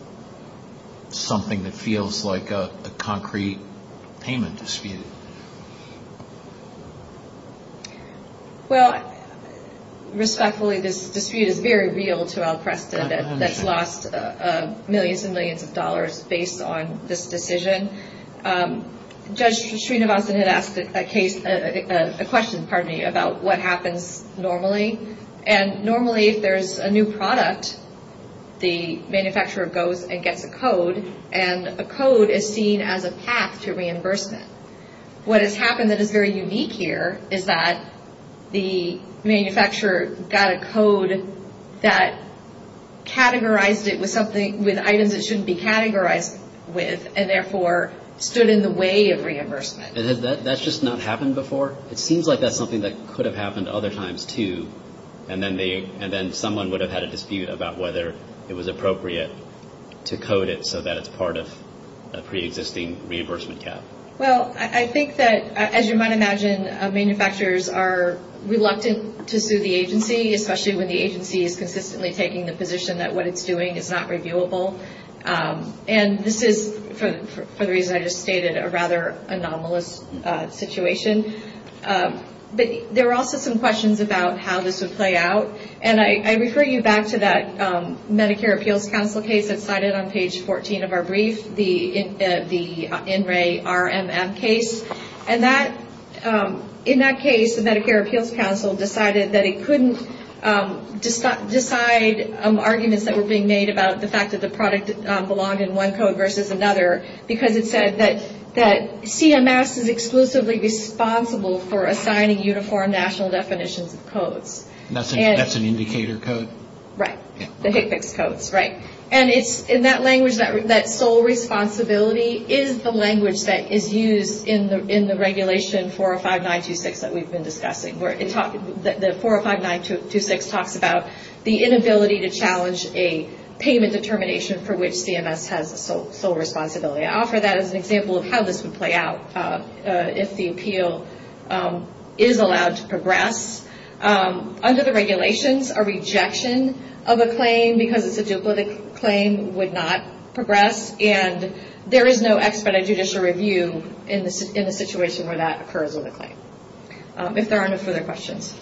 something that feels like a concrete payment dispute. Well, respectfully, this dispute is very real to our precedent that's lost millions and millions of dollars based on this decision. Judge Srinivasan had asked a question about what happens normally. Normally, if there's a new product, the manufacturer goes and gets a code, and the code is seen as a path to reimbursement. What has happened that is very unique here is that the manufacturer got a code that categorized it with items it shouldn't be categorized with and, therefore, stood in the way of reimbursement. And that's just not happened before? It seems like that's something that could have happened other times, too, and then someone would have had a dispute about whether it was appropriate to code it so that it's part of a preexisting reimbursement calculation. Well, I think that, as you might imagine, manufacturers are reluctant to sue the agency, especially when the agency is consistently taking the position that what it's doing is not reviewable. And this is, for the reason I just stated, a rather anomalous situation. But there are also some questions about how this would play out, and I refer you back to that Medicare Appeals Council case that's cited on page 14 of our brief, the NRA RMM case. And in that case, the Medicare Appeals Council decided that it couldn't decide arguments that were being made about the fact that the product belonged in one code versus another because it said that CMS is exclusively responsible for assigning uniform national definitions of codes. That's an indicator code. Right, the HCPCS codes, right. And in that language, that sole responsibility is the language that is used in the regulation 405926 that we've been discussing, where the 405926 talks about the inability to challenge a payment determination for which CMS has sole responsibility. I offer that as an example of how this would play out if the appeal is allowed to progress. Under the regulations, a rejection of a claim because it's a judicial claim would not progress, and there is no expedited judicial review in the situation where that occurs with a claim. If there aren't any further questions.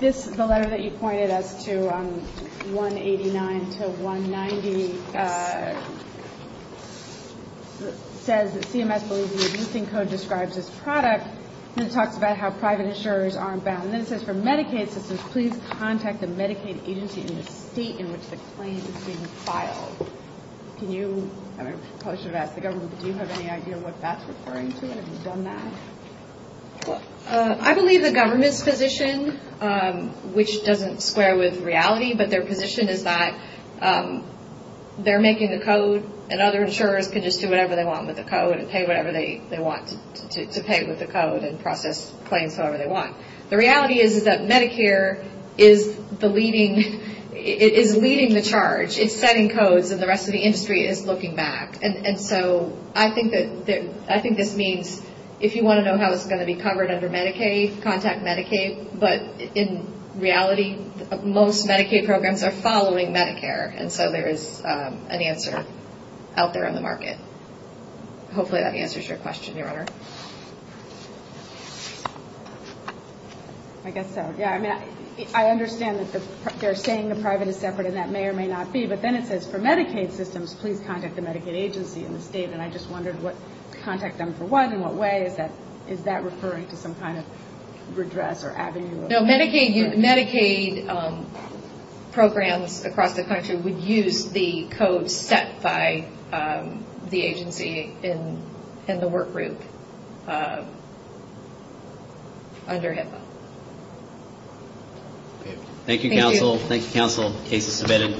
This, the letter that you pointed up to 189 to 190, it basically says that CMS believes the abusing code describes this product and it talks about how private insurers aren't bound. And then it says for Medicaid purposes, please contact the Medicaid agency in the state in which the claim is being filed. Can you, or should I ask the government, do you have any idea what that's referring to? Have you done that? I believe the government's position, which doesn't square with reality, but their position is that they're making the code and other insurers can just do whatever they want with the code and pay whatever they want to pay with the code and process claims however they want. The reality is that Medicare is the leading, is leading the charge. It's setting codes and the rest of the industry is looking back. And so I think this means if you want to know how it's going to be covered under Medicaid, contact Medicaid. But in reality, most Medicaid programs are following Medicare. And so there is an answer out there in the market. Hopefully that answers your question, Your Honor. I guess so. Yeah, I mean, I understand that they're saying the private is separate and that may or may not be, but then it says for Medicaid systems, please contact the Medicaid agency in the state. And I just wondered what contact them for what and what way. Is that referring to some kind of redress or avenue? No, Medicaid programs across the country would use the code set by the agency in the work group under HIPAA. Thank you, counsel. Thank you, counsel. The case is submitted.